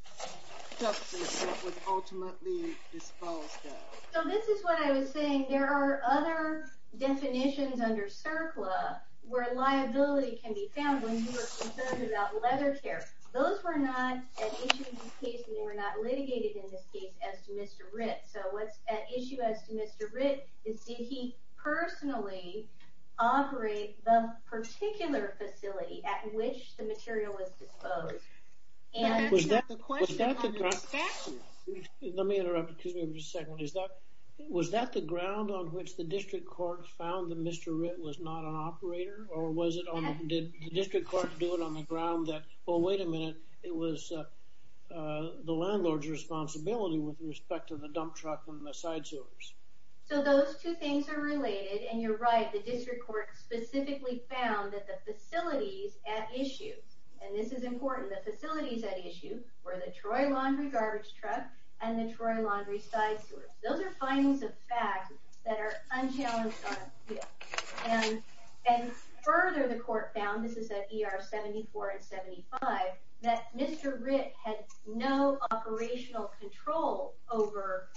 substance that was ultimately disposed of. So this is what I was saying. There are other definitions under CERCLA where liability can be found. And you were concerned about Leathercare. Those were not an issue in this case. And they were not litigated in this case as Mr. Ritt. So what's at issue as Mr. Ritt is did he personally operate the particular facility at which the material was disposed? Was that the ground on which the district court found that Mr. Ritt was not an operator? Or did the district court do it on the ground that, well, wait a minute, it was the landlord's responsibility with respect to the dump truck and the side sewers? So those two things are related. And you're right. The district court specifically found that the facility is at issue. And this is important. The facility is at issue for the Troy Laundry garbage truck and the Troy Laundry side sewers. Those are findings of fact that are unchallenged on appeal. And further, the court found, this is at ER 74 and 75, that Mr. Ritt had no operational control over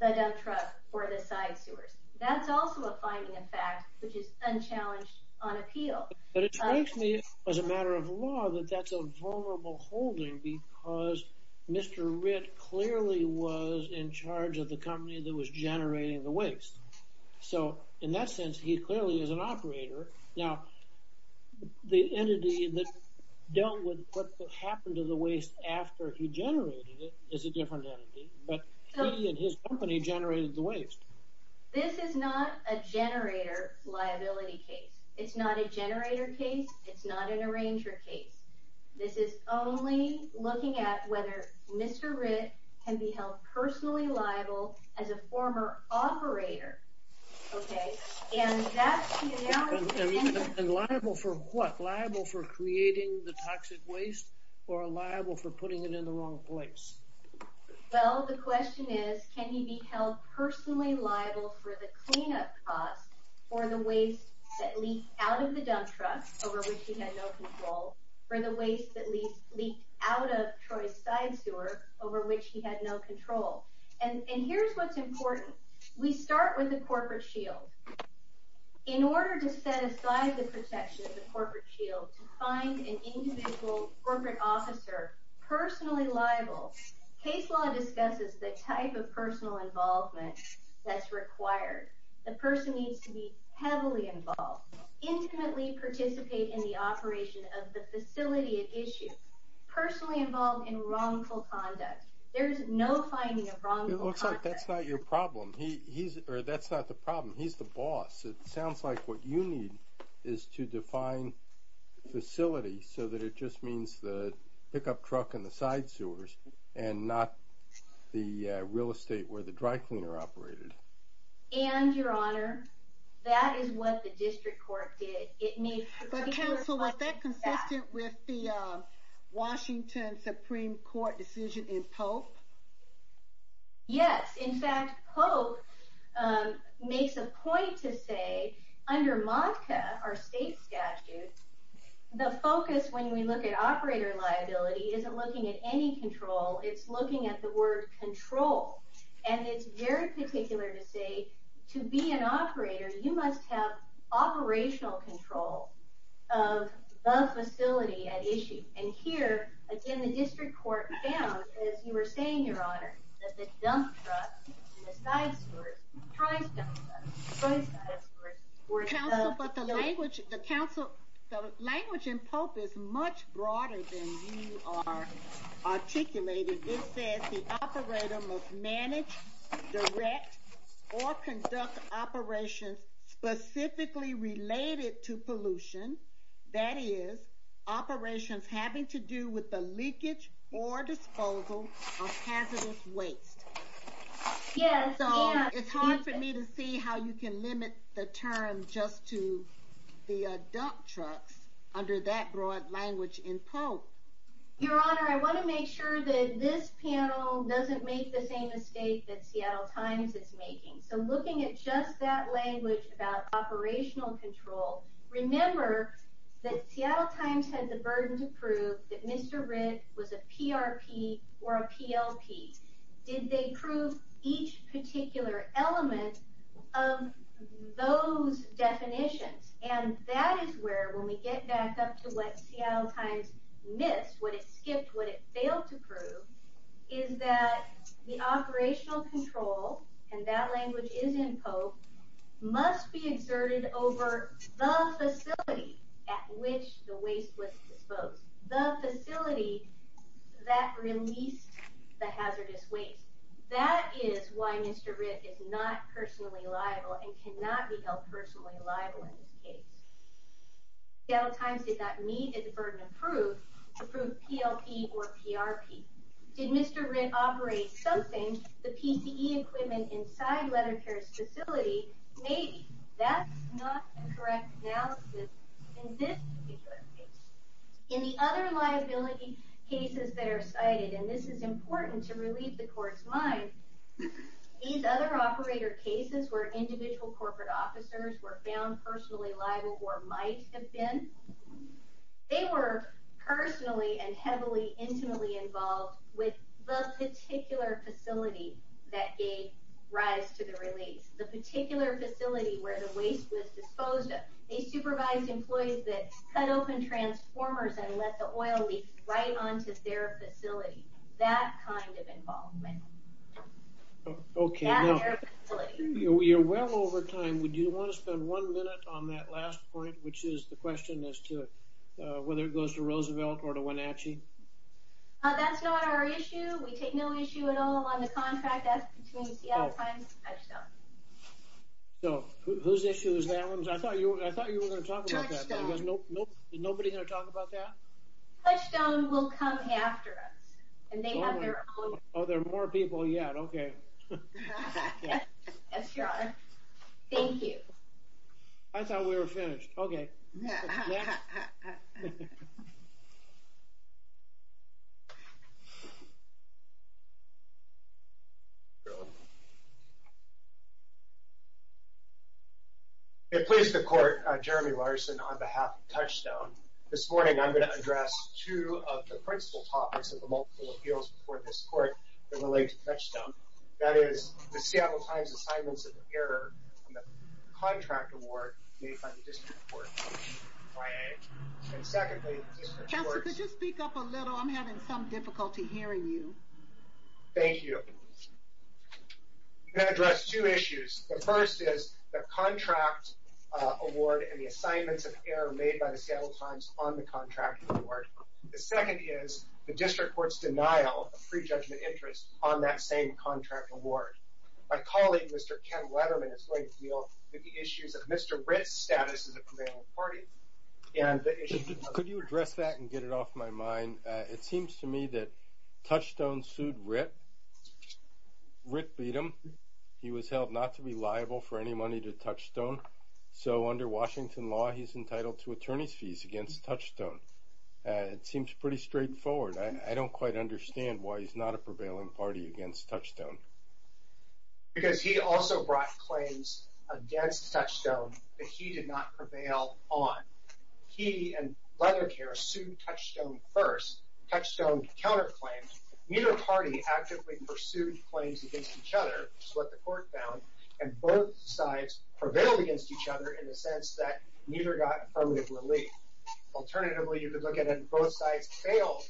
the dump truck or the side sewers. That's also a finding of fact which is unchallenged on appeal. But it strikes me as a matter of law that that's a vulnerable holding because Mr. Ritt clearly was in charge of the company that was generating the waste. So in that sense, he clearly is an operator. Now, the entity that dealt with what happened to the waste after he generated it is a different entity. But his company generated the waste. This is not a generator liability case. It's not a generator case. It's not an arranger case. This is only looking at whether Mr. Ritt can be held personally liable as a former operator. Okay. And that's the answer. And liable for what? Liable for creating the toxic waste or liable for putting it in the wrong place? Well, the question is, can he be held personally liable for the cleanup spot or the waste that leaked out of the dump truck, over which he had no control, or the waste that leaked out of Troy's side sewer, over which he had no control? And here's what's important. We start with the corporate shield. In order to set aside the perception of the corporate shield, to find an individual corporate officer personally liable, case law discusses the type of personal involvement that's required. The person needs to be heavily involved, intimately participate in the operation of the facility at issue, personally involved in wrongful conduct. There's no finding of wrongful conduct. That's not your problem. That's not the problem. He's the boss. It sounds like what you need is to define facility so that it just means the pickup truck and the side sewers and not the real estate where the dry cleaner operated. And, Your Honor, that is what the district court did. Counsel, is that consistent with the Washington Supreme Court decision in Pope? Yes. In fact, Pope makes a point to say, under MONCA, our state statute, the focus when we look at operator liability isn't looking at any control. It's looking at the word control. And it's very particular to say, to be an operator, you must have operational control of the facility at issue. And here, again, the district court found, as you were saying, Your Honor, that the dump truck, the side sewers, the prime sewers, the toilet sewers were some of the- Counsel, but the language in Pope is much broader than you articulated. It says the operator must manage, direct, or conduct operations specifically related to pollution, that is, operations having to do with the leakage or disposal of hazardous waste. Yes. So, it's hard for me to see how you can limit the term just to the dump truck under that broad language in Pope. Your Honor, I want to make sure that this panel doesn't make the same mistake that Seattle Times is making. So, looking at just that language about operational control, remember that Seattle Times has a burden to prove that Mr. Ritz was a PRP or a PLP. Did they prove each particular element of those definitions? And that is where, when we get back up to what Seattle Times missed, what it skipped, what it failed to prove, is that the operational control, and that language is in Pope, must be exerted over the facility at which the waste was disposed. The facility that released the hazardous waste. That is why Mr. Ritz is not personally liable and cannot be held personally liable in this case. Seattle Times did not need this burden to prove PLP or PRP. Did Mr. Ritz operate something, the PPE equipment inside Leather Care's facility? Maybe. That's not the correct analysis in this particular case. In the other liability cases that are cited, and this is important to release the court's mind, these other operator cases where individual corporate officers were found personally liable or might have been, they were personally and heavily, intimately involved with the particular facility that gave rise to the release. The particular facility where the waste was disposed of. They supervised employees that cut open transformers and let the oil leak right onto their facility. That kind of involvement. Okay. We are well over time. Would you want to spend one minute on that last point, which is the question as to whether it goes to Roosevelt or to Wenatchee? That's not our issue. We take no issue at all on the contract. So whose issue is that? I thought you were going to talk about that. Nobody going to talk about that? Touchdown will come after us. Oh, there are more people yet. Okay. Yes, Your Honor. Thank you. I thought we were finished. Okay. It pleases the court, Jeremy Larson, on behalf of Touchdown. This morning I'm going to address two of the principal topics of the multiple appeals before this court that relate to Touchdown. That is the Seattle Times' assignments of error on the contract award made by the district court. And secondly... Counselor, could you speak up a little? I'm having some difficulty hearing you. Thank you. I'm going to address two issues. The first is the contract award and the assignments of error made by the Seattle Times on the contract award. The second is the district court's denial of pre-judgment interest on that same contract award. My colleague, Mr. Ken Weatherman, has laid a deal with the issues of Mr. Ritt's status as a commandant of the party. And the issue... Could you address that and get it off my mind? It seems to me that Touchdown sued Ritt. Ritt beat him. He was held not to be liable for any money to Touchdown. So under Washington law, he's entitled to attorney's fees against Touchdown. It seems pretty straightforward. I don't quite understand why he's not a prevailing party against Touchdown. Because he also brought claims against Touchdown that he did not prevail on. He and Weatherman here sued Touchdown first. Touchdown counterclaimed. Neither party actively pursued claims against each other, which is what the court found. And both sides prevailed against each other in the sense that neither got affirmative relief. Alternatively, you could look at it as both sides failed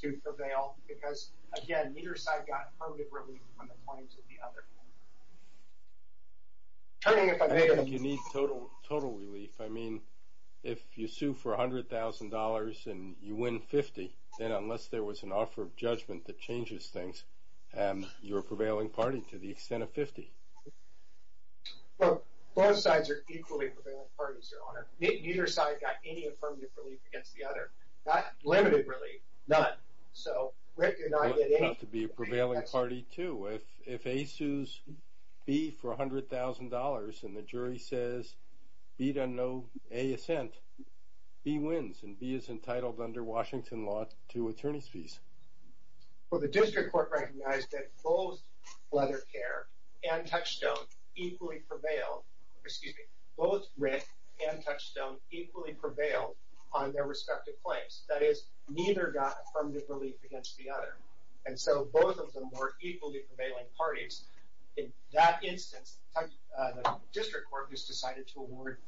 to prevail because, again, neither side got affirmative relief on the claims of the other. Turning it from there... You need total relief. I mean, if you sue for $100,000 and you win 50, then unless there was an offer of judgment that changes things, you're a prevailing party to the extent of 50. Well, both sides are equally prevailing parties, Your Honor. Neither side got any affirmative relief against the other. That's limited relief. None. So Rick and I get eight. They have to be a prevailing party, too. If A sues B for $100,000 and the jury says B doesn't know A is sent, B wins, and B is entitled under Washington law to attorney's fees. Well, the district court recognized that both Leather Care and Touchstone equally prevailed on their respective claims. That is, neither got affirmative relief against the other. And so both of them were equally prevailing parties. In that instance, the district court just decided to award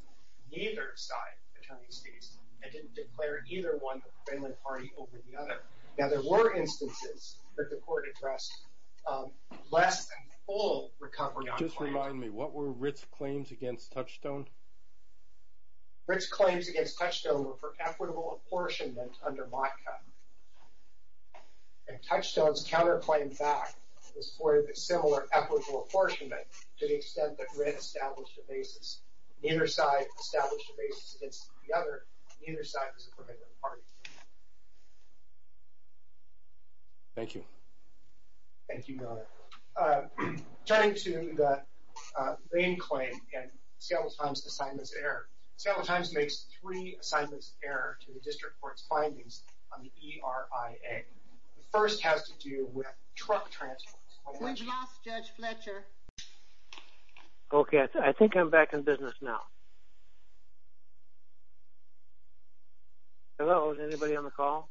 neither side attorney's fees and didn't declare either one a prevailing party over the other. Now, there were instances that the court addressed less than full recovery on claims. Just remind me, what were Rick's claims against Touchstone? Rick's claims against Touchstone were for equitable apportionment under MOTCA. And Touchstone's counterclaim back was for the similar equitable apportionment to the extent that Rick established a basis. Neither side established a basis against the other. Neither side was a prevailing party. Thank you. Thank you, Miller. Turning to the Lane claim and Seattle Times' assignments error, Seattle Times makes three assignments error to the district court's findings on the ERIA. The first has to do with truck transports. We've lost Judge Fletcher. Okay, I think I'm back in business now. Hello, is anybody on the call?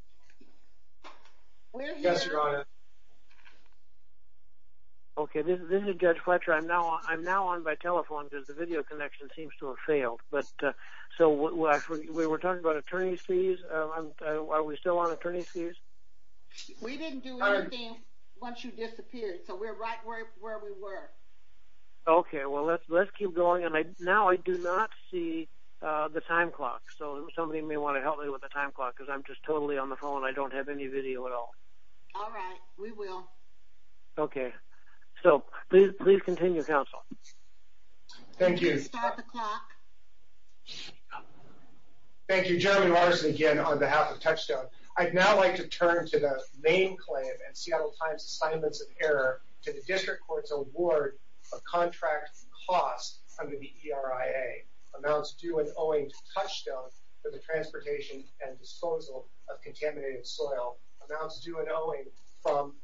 We're here. Okay, this is Judge Fletcher. I'm now on by telephone because the video connection seems to have failed. So, we were talking about attorney's fees. Are we still on attorney's fees? We didn't do anything once you disappeared, so we're right where we were. Okay, well, let's keep going. Now I do not see the time clock. So, somebody may want to help me with the time clock because I'm just totally on the phone. I don't have any video at all. All right, we will. Okay. So, please continue, counsel. Thank you. It's half o'clock. Thank you. Jeremy Larson again on behalf of Touchstone. I'd now like to turn to the main claim and Seattle Times' assignments of error to the district court's award of contract costs under the ERIA. Amounts due and owing to Touchstone for the transportation and disposal of contaminated soil. Amounts due and owing from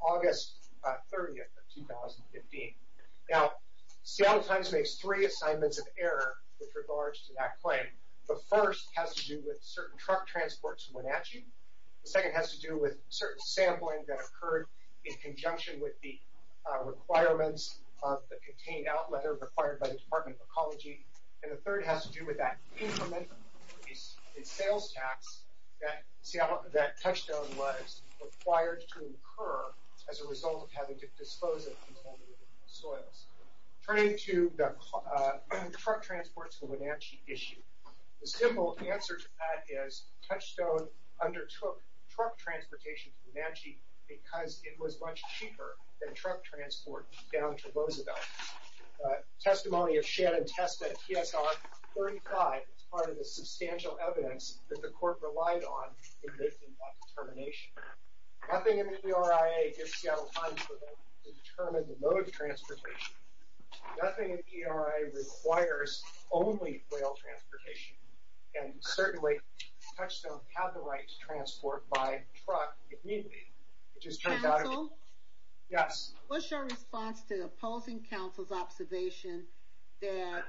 August 30th of 2015. Now, Seattle Times makes three assignments of error with regards to that claim. The first has to do with certain truck transports in Wenatchee. The second has to do with certain sampling that occurred in conjunction with the requirements of the contained outlet or required by the Department of Ecology. And the third has to do with that increment in sales tax that Touchstone was required to incur as a result of having to dispose of contaminated soils. Turning to the truck transports in Wenatchee issue. The simple answer to that is Touchstone undertook truck transportation in Wenatchee because it was much cheaper than truck transport down to Roosevelt. Testimony of Shannon Testa at TSR 35 is part of the substantial evidence that the court relied on in making that determination. Nothing in the ERIA gets Seattle Times to determine the mode of transportation. Nothing in the ERIA requires only rail transportation. And certainly, Touchstone had the right to transport by truck if needed. Council? Yes. What's your response to opposing counsel's observation that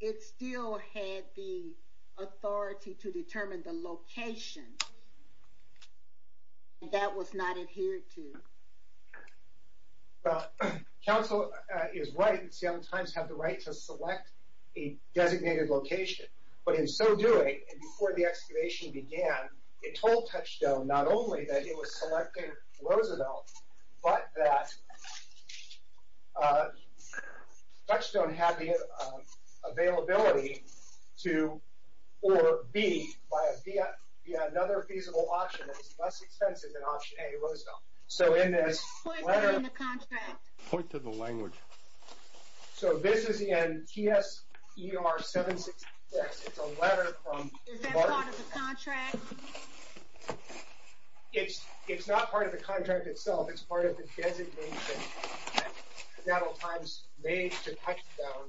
it still had the authority to determine the location that was not adhered to? Counsel is right. Seattle Times had the right to select a designated location. But in so doing, and before the excavation began, it told Touchstone not only that it was connected to Roosevelt, but that Touchstone had the availability to, or be, via another feasible option that was less expensive than option A, Roosevelt. Point to the contract. Point to the language. So this is in TSER 76. It's a letter from... Is that part of the contract? It's not part of the contract itself. It's part of the designation that Seattle Times made to Touchstone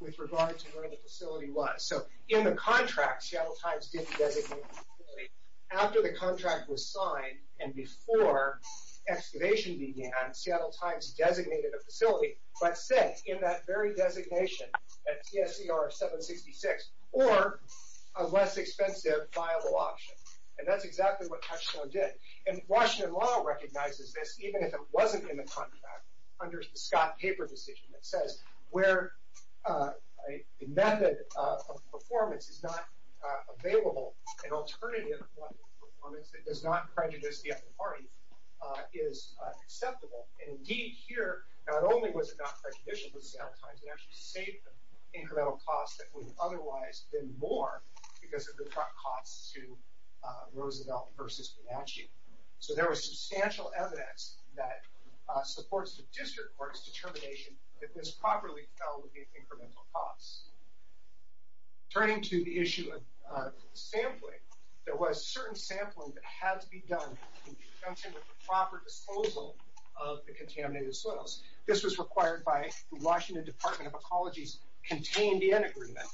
with regard to where the facility was. So in the contract, Seattle Times didn't designate a facility. After the contract was signed, and before excavation began, Seattle Times designated a facility, but said in that very designation, that's TSER 766, or a less expensive viable option. And that's exactly what Touchstone did. And Washington law recognizes this, even if it wasn't in the contract, under the Scott-Taper decision that says where a method of performance is not available, an alternative that does not prejudice the other party is acceptable. And indeed, here, not only was it not prejudicial to Seattle Times, it actually saved them incremental costs that would otherwise have been more because of the cost to Roosevelt versus Bonacci. So there was substantial evidence that supports the district court's determination that this properly dealt with the incremental costs. Turning to the issue of sampling, there was certain sampling that had to be done to ensure the proper disposal of the contaminated soils. This was required by the Washington Department of Ecology's contained in agreement.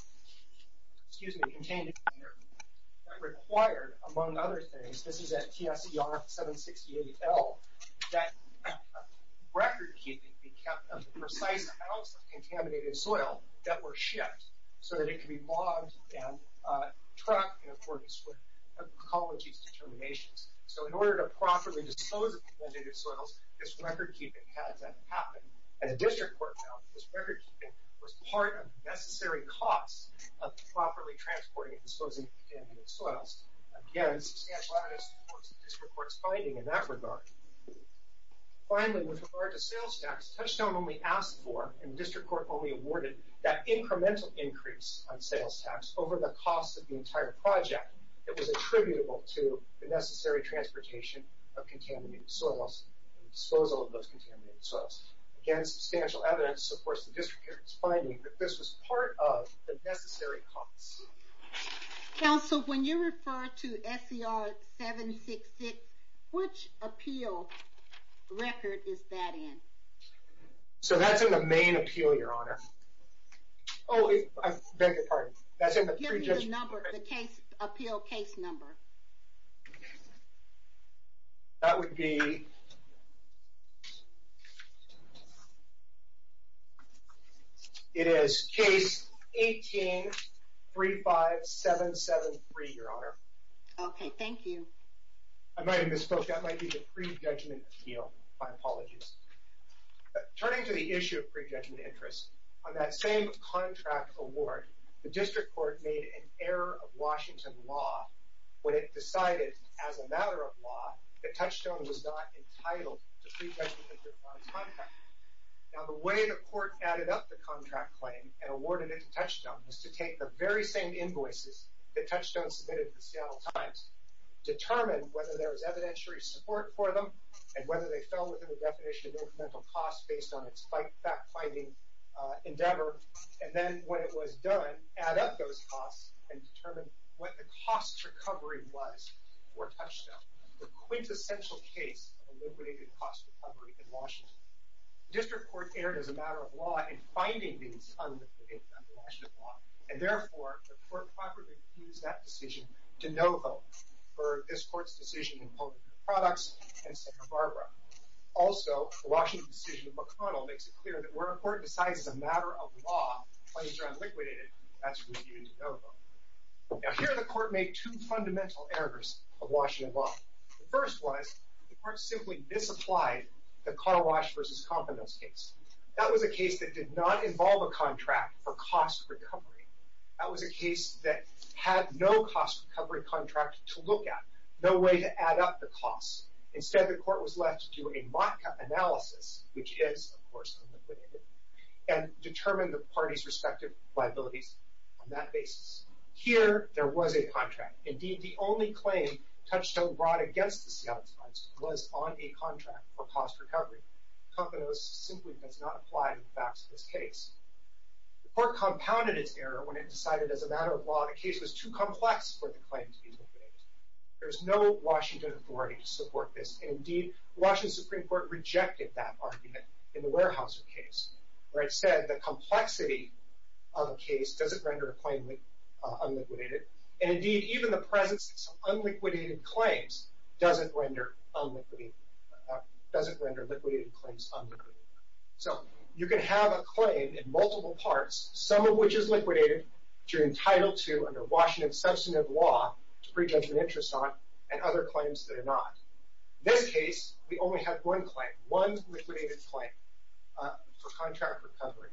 Excuse me, contained agreement. That required, among other things, this is at TSER 768L, that recordkeeping be kept of the precise amounts of contaminated soil that were shipped so that it could be logged and tracked in accordance with the ecology's determinations. So in order to properly dispose of the contaminated soils, this recordkeeping had to happen. And the district court found that this recordkeeping was part of the necessary cost of properly transporting and disposing of the contaminated soils. Again, substantial evidence that supports the district court's finding in that regard. Finally, with regard to sales tax, Touchdown only asked for, and the district court only awarded, that incremental increase on sales tax over the cost of the entire project that was attributable to the necessary transportation of contaminated soils and disposal of those contaminated soils. Again, substantial evidence that supports the district court's finding that this was part of the necessary cost. Counsel, when you refer to SER 766, which appeal record is that in? So that's in the main appeal, Your Honor. Oh, I beg your pardon. Give me the number, the appeal case number. That would be... It is case 18-35-773, Your Honor. Okay, thank you. I might have misspoke. That might be the pre-judgment appeal. My apologies. Turning to the issue of pre-judgment interest, on that same contract award, the district court made an error of Washington law when it decided, as a matter of law, that Touchdown was not entitled to pre-judgment interest on a contract. Now, the way the court added up the contract claim and awarded it to Touchdown was to take the very same invoices that Touchdown submitted to the Seattle Times, determine whether there was evidentiary support for them, and whether they fell within the definition of incremental cost based on its fact-finding endeavor, and then, when it was done, add up those costs and determine what the cost recovery was for Touchdown. The quintessential case of a liquidated cost recovery in Washington. The district court erred, as a matter of law, in finding these fundamental errors under Washington law. And, therefore, the court properly refused that decision to Novo for this court's decision in public products and Santa Barbara. Also, the Washington decision of McConnell makes it clear that where a court decides, as a matter of law, Touchdown liquidated, that's refused Novo. Now, here the court made two fundamental errors of Washington law. The first was the court simply disapplied the car wash versus confidence case. That was a case that did not involve a contract for cost recovery. That was a case that had no cost recovery contract to look at, no way to add up the costs. Instead, the court was left to a MOTCA analysis, which is, of course, unliquidated, and determine the parties' respective liabilities on that basis. Here, there was a contract. Indeed, the only claim Touchdown brought against the Seattle Times was on a contract for cost recovery. Confidence simply does not apply in the facts of this case. The court compounded its error when it decided, as a matter of law, the case was too complex for the claims to be liquidated. There's no Washington authority to support this. Indeed, Washington Supreme Court rejected that argument in the Warehouse case, where it said the complexity of a case doesn't render a claim unliquidated. Indeed, even the presence of unliquidated claims doesn't render unliquidated claims unliquidated. You can have a claim in multiple parts, some of which is liquidated, which you're entitled to under Washington substantive law to prejudge an interest on, and other claims that are not. In this case, we only have one claim, one liquidated claim for contract recovery.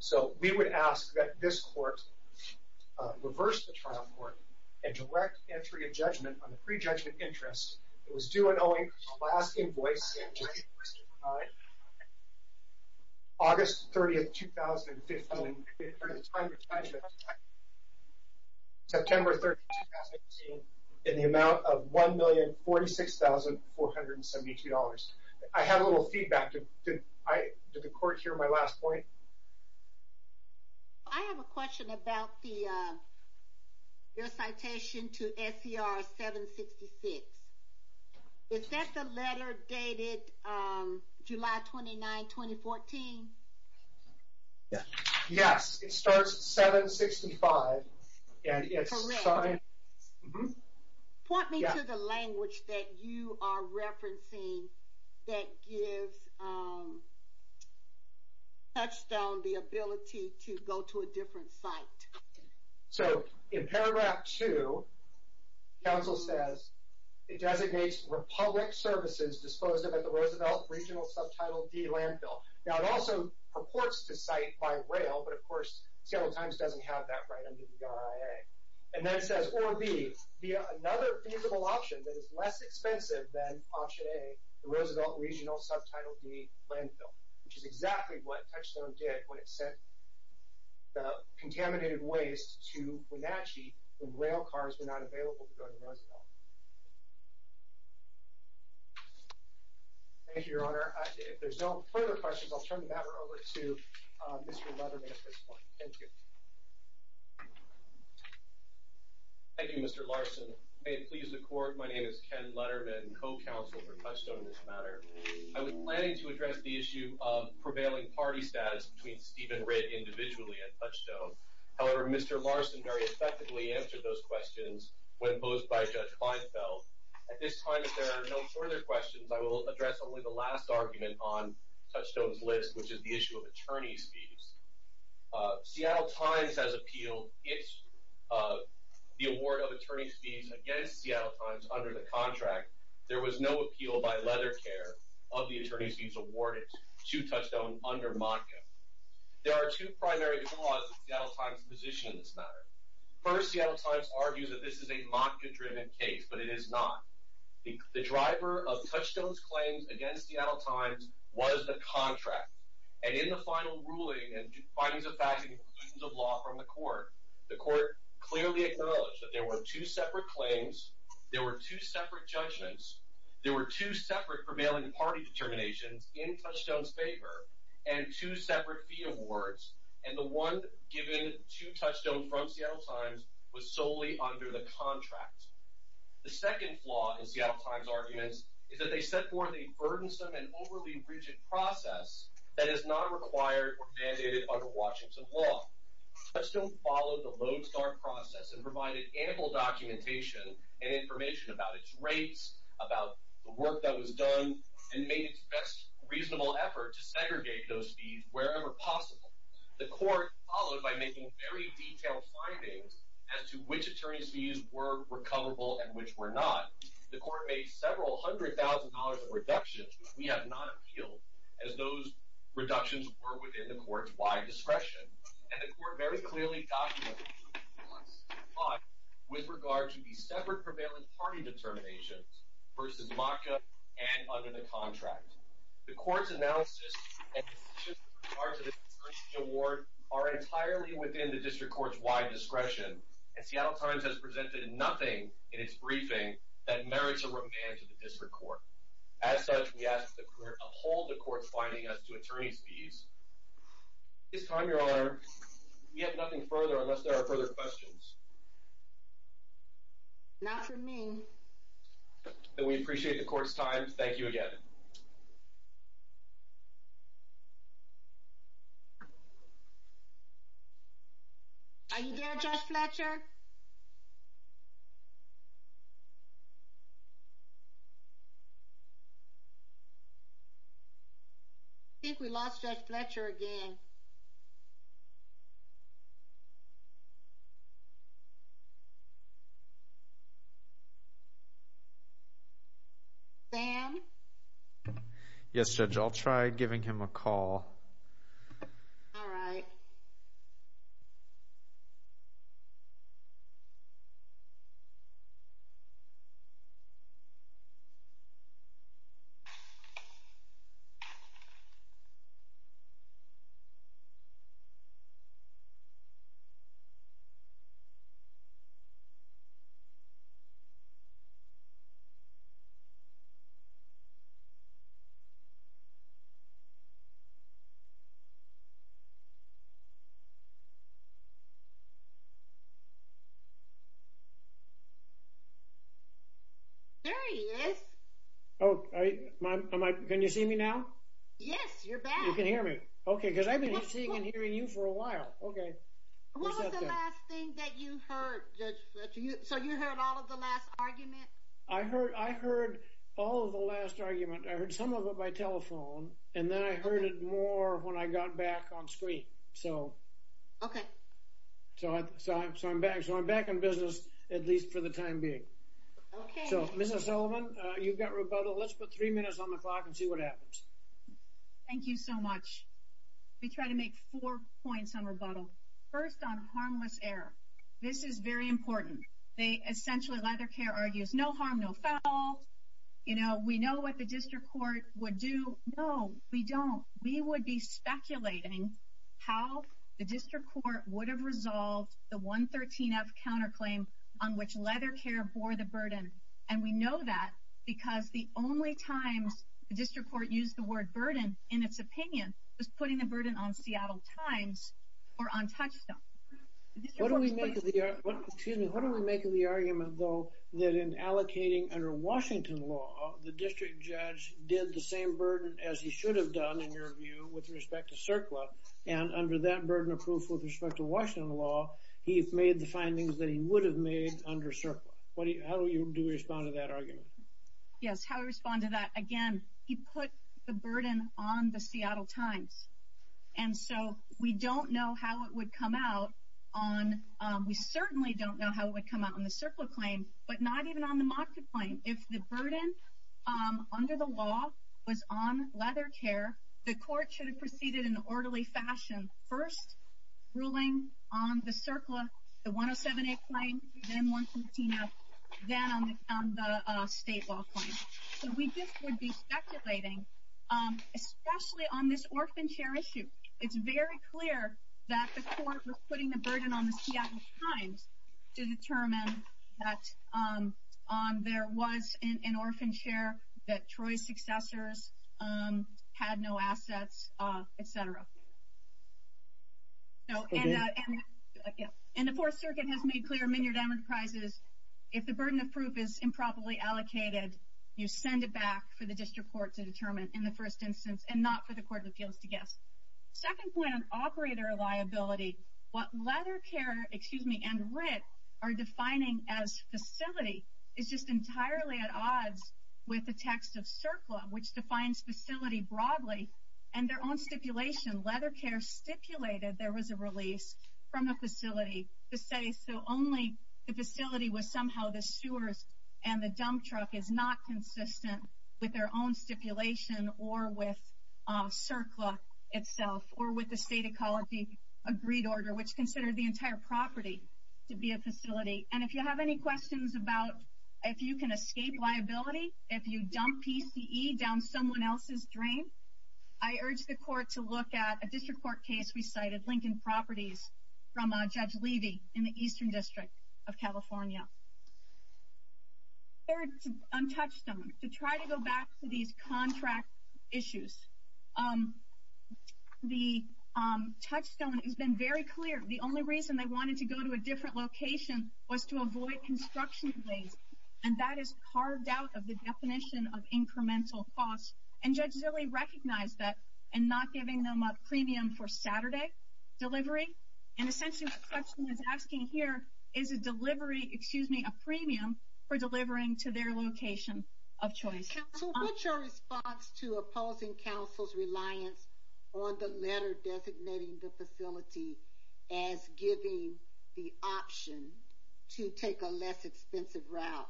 So, we would ask that this court reverse the trial court and direct entry of judgment on the prejudged interest. It was due and owing to the last invoice, August 30, 2015, September 30, 2015, in the amount of $1,046,472. I have a little feedback. Did the court hear my last point? I have a question about your citation to SCR 766. Is that the letter dated July 29, 2014? Yes, it starts 765. Correct. Point me to the language that you are referencing that gives Touchstone the ability to go to a different site. So, in paragraph 2, counsel says, it designates Republic Services disposed of at the Roosevelt Regional Subtitle D landfill. Now, it also purports to cite by rail, but of course, Seattle Times doesn't have that right under the RIA. And then it says, or B, another feasible option that is less expensive than Option A, the Roosevelt Regional Subtitle D landfill, which is exactly what Touchstone did when it sent the contaminated waste to Wenatchee when rail cars were not available to go to Roosevelt. Thank you, Your Honor. If there's no further questions, I'll turn the matter over to Mr. Leatherman at this point. Thank you. Thank you, Mr. Larson. May it please the court, my name is Ken Leatherman, co-counsel for Touchstone in this matter. I was planning to address the issue of prevailing party status between Steve and Rick individually at Touchstone. However, Mr. Larson very effectively answered those questions when posed by Judge Feinfeld. At this time, if there are no further questions, I will address only the last argument on Touchstone's list, which is the issue of attorney fees. Seattle Times has appealed the award of attorney fees against Seattle Times under the contract. There was no appeal by Leathercare of the attorney fees awarded to Touchstone under MONCA. There are two primary causes of Seattle Times' position in this matter. First, Seattle Times argues that this is a MONCA-driven case, but it is not. The driver of Touchstone's claims against Seattle Times was the contract. And in the final ruling and findings of fact and proceedings of law from the court, the court clearly acknowledged that there were two separate claims, there were two separate judgments, there were two separate prevailing party determinations in Touchstone's favor, and two separate fee awards, and the one given to Touchstone from Seattle Times was solely under the contract. The second flaw in Seattle Times' argument is that they set forth a burdensome and overly rigid process that is not required or mandated by the Washington law. Touchstone followed the Lone Star process and provided ample documentation and information about its rates, about the work that was done, and made the best reasonable effort to segregate those fees wherever possible. The court followed by making very detailed findings as to which attorney fees were recoverable and which were not. The court made several hundred thousand dollars of reductions, which we have not appealed, as those reductions were within the court's wide discretion. And the court very clearly documented this flaw with regard to the separate prevailing party determinations, first in MONCA and under the contract. The court's analysis and decision with regard to the fee award are entirely within the district court's wide discretion, and Seattle Times has presented nothing in its briefing that merits a remand to the district court. As such, we ask that the court uphold the court's finding as to attorney fees. At this time, Your Honor, we have nothing further unless there are further questions. Not for me. We appreciate the court's time. Thank you again. Are you there, Judge Fletcher? I think we lost Judge Fletcher again. Sam? Yes, Judge. I'll try giving him a call. All right. There he is. Oh, can you see me now? Yes, you're back. You can hear me. Okay, because I've been hearing you for a while. Okay. What was the last thing that you heard, Judge Fletcher? So you heard all of the last arguments? I heard all of the last arguments. I heard some of it by telephone, and then I heard it more when I got back on screen. Okay. So I'm back in business, at least for the time being. Okay. So, Mrs. Sullivan, you've got rebuttal. Let's put three minutes on the clock and see what happens. Thank you so much. We try to make four points on rebuttal. First on harmless error. This is very important. Essentially, Leathercare argues no harm, no foul. You know, we know what the district court would do. No, we don't. We would be speculating how the district court would have resolved the 113F counterclaim on which Leathercare bore the burden. And we know that because the only time the district court used the word burden in its opinion was putting the burden on Seattle Times or on Touchstone. What do we make of the argument, though, that in allocating under Washington law, the district judge did the same burden as he should have done, in your view, with respect to CERCLA, and under that burden of proof with respect to Washington law, he made the findings that he would have made under CERCLA. How do we respond to that argument? Yes, how do we respond to that? Again, he put the burden on the Seattle Times. And so we don't know how it would come out on — we certainly don't know how it would come out on the CERCLA claim, but not even on the MOCCA claim. If the burden under the law was on Leathercare, the court should have proceeded in an orderly fashion, first ruling on the CERCLA, the 107F claim, then 113F, then on the state law claim. So we just would be speculating, especially on this orphan chair issue. It's very clear that the court was putting the burden on the Seattle Times to determine that there was an orphan chair that Troy's successors had no access, et cetera. And the Fourth Circuit has made clear in many of their enterprises, if the burden of proof is improperly allocated, you send it back for the district court to determine in the first instance, and not for the court to give the gift. Second point on operator liability, what Leathercare — excuse me — and RIT are defining as facility is just entirely at odds with the text of CERCLA, which defines facility broadly, and their own stipulation. Leathercare stipulated there was a release from a facility to say, so only the facility with somehow the sewers and the dump truck is not consistent with their own stipulation, or with CERCLA itself, or with the state ecology agreed order, which considered the entire property to be a facility. And if you have any questions about if you can escape liability, if you dump PCE down someone else's drain, I urge the court to look at a district court case we cited, Lincoln Properties, from Judge Levy in the Eastern District of California. Third, to untouch them, to try to go back to these contract issues. The touchstone has been very clear. The only reason they wanted to go to a different location was to avoid construction delays, and that is carved out of the definition of incremental costs. And Judge Levy recognized that, and not giving them a premium for Saturday delivery. And essentially the question is asking here, is the delivery — excuse me — a premium for delivering to their location of choice? So what's your response to opposing counsel's reliance on the letter designating the facility as giving the option to take a less expensive route?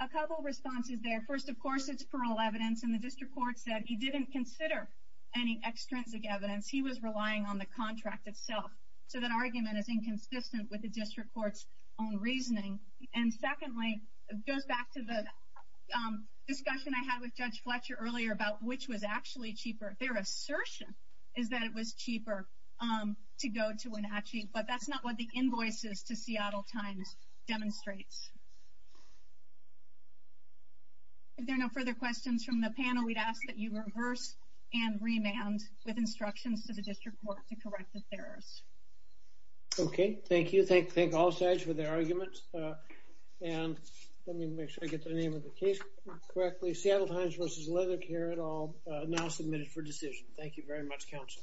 A couple responses there. First, of course, it's plural evidence, and the district court said he didn't consider any extrinsic evidence. He was relying on the contract itself. So that argument is inconsistent with the district court's own reasoning. And secondly, it goes back to the discussion I had with Judge Fletcher earlier about which was actually cheaper. Their assertion is that it was cheaper to go to Wenatchee, but that's not what the invoices to Seattle Times demonstrates. If there are no further questions from the panel, we'd ask that you reverse and remand with instructions to the district court to correct the errors. Okay. Thank you. Thank all sides for their arguments. And let me make sure I get the name of the case correctly. Seattle Times v. Leather Care et al. Now submitted for decision. Thank you very much, counsel.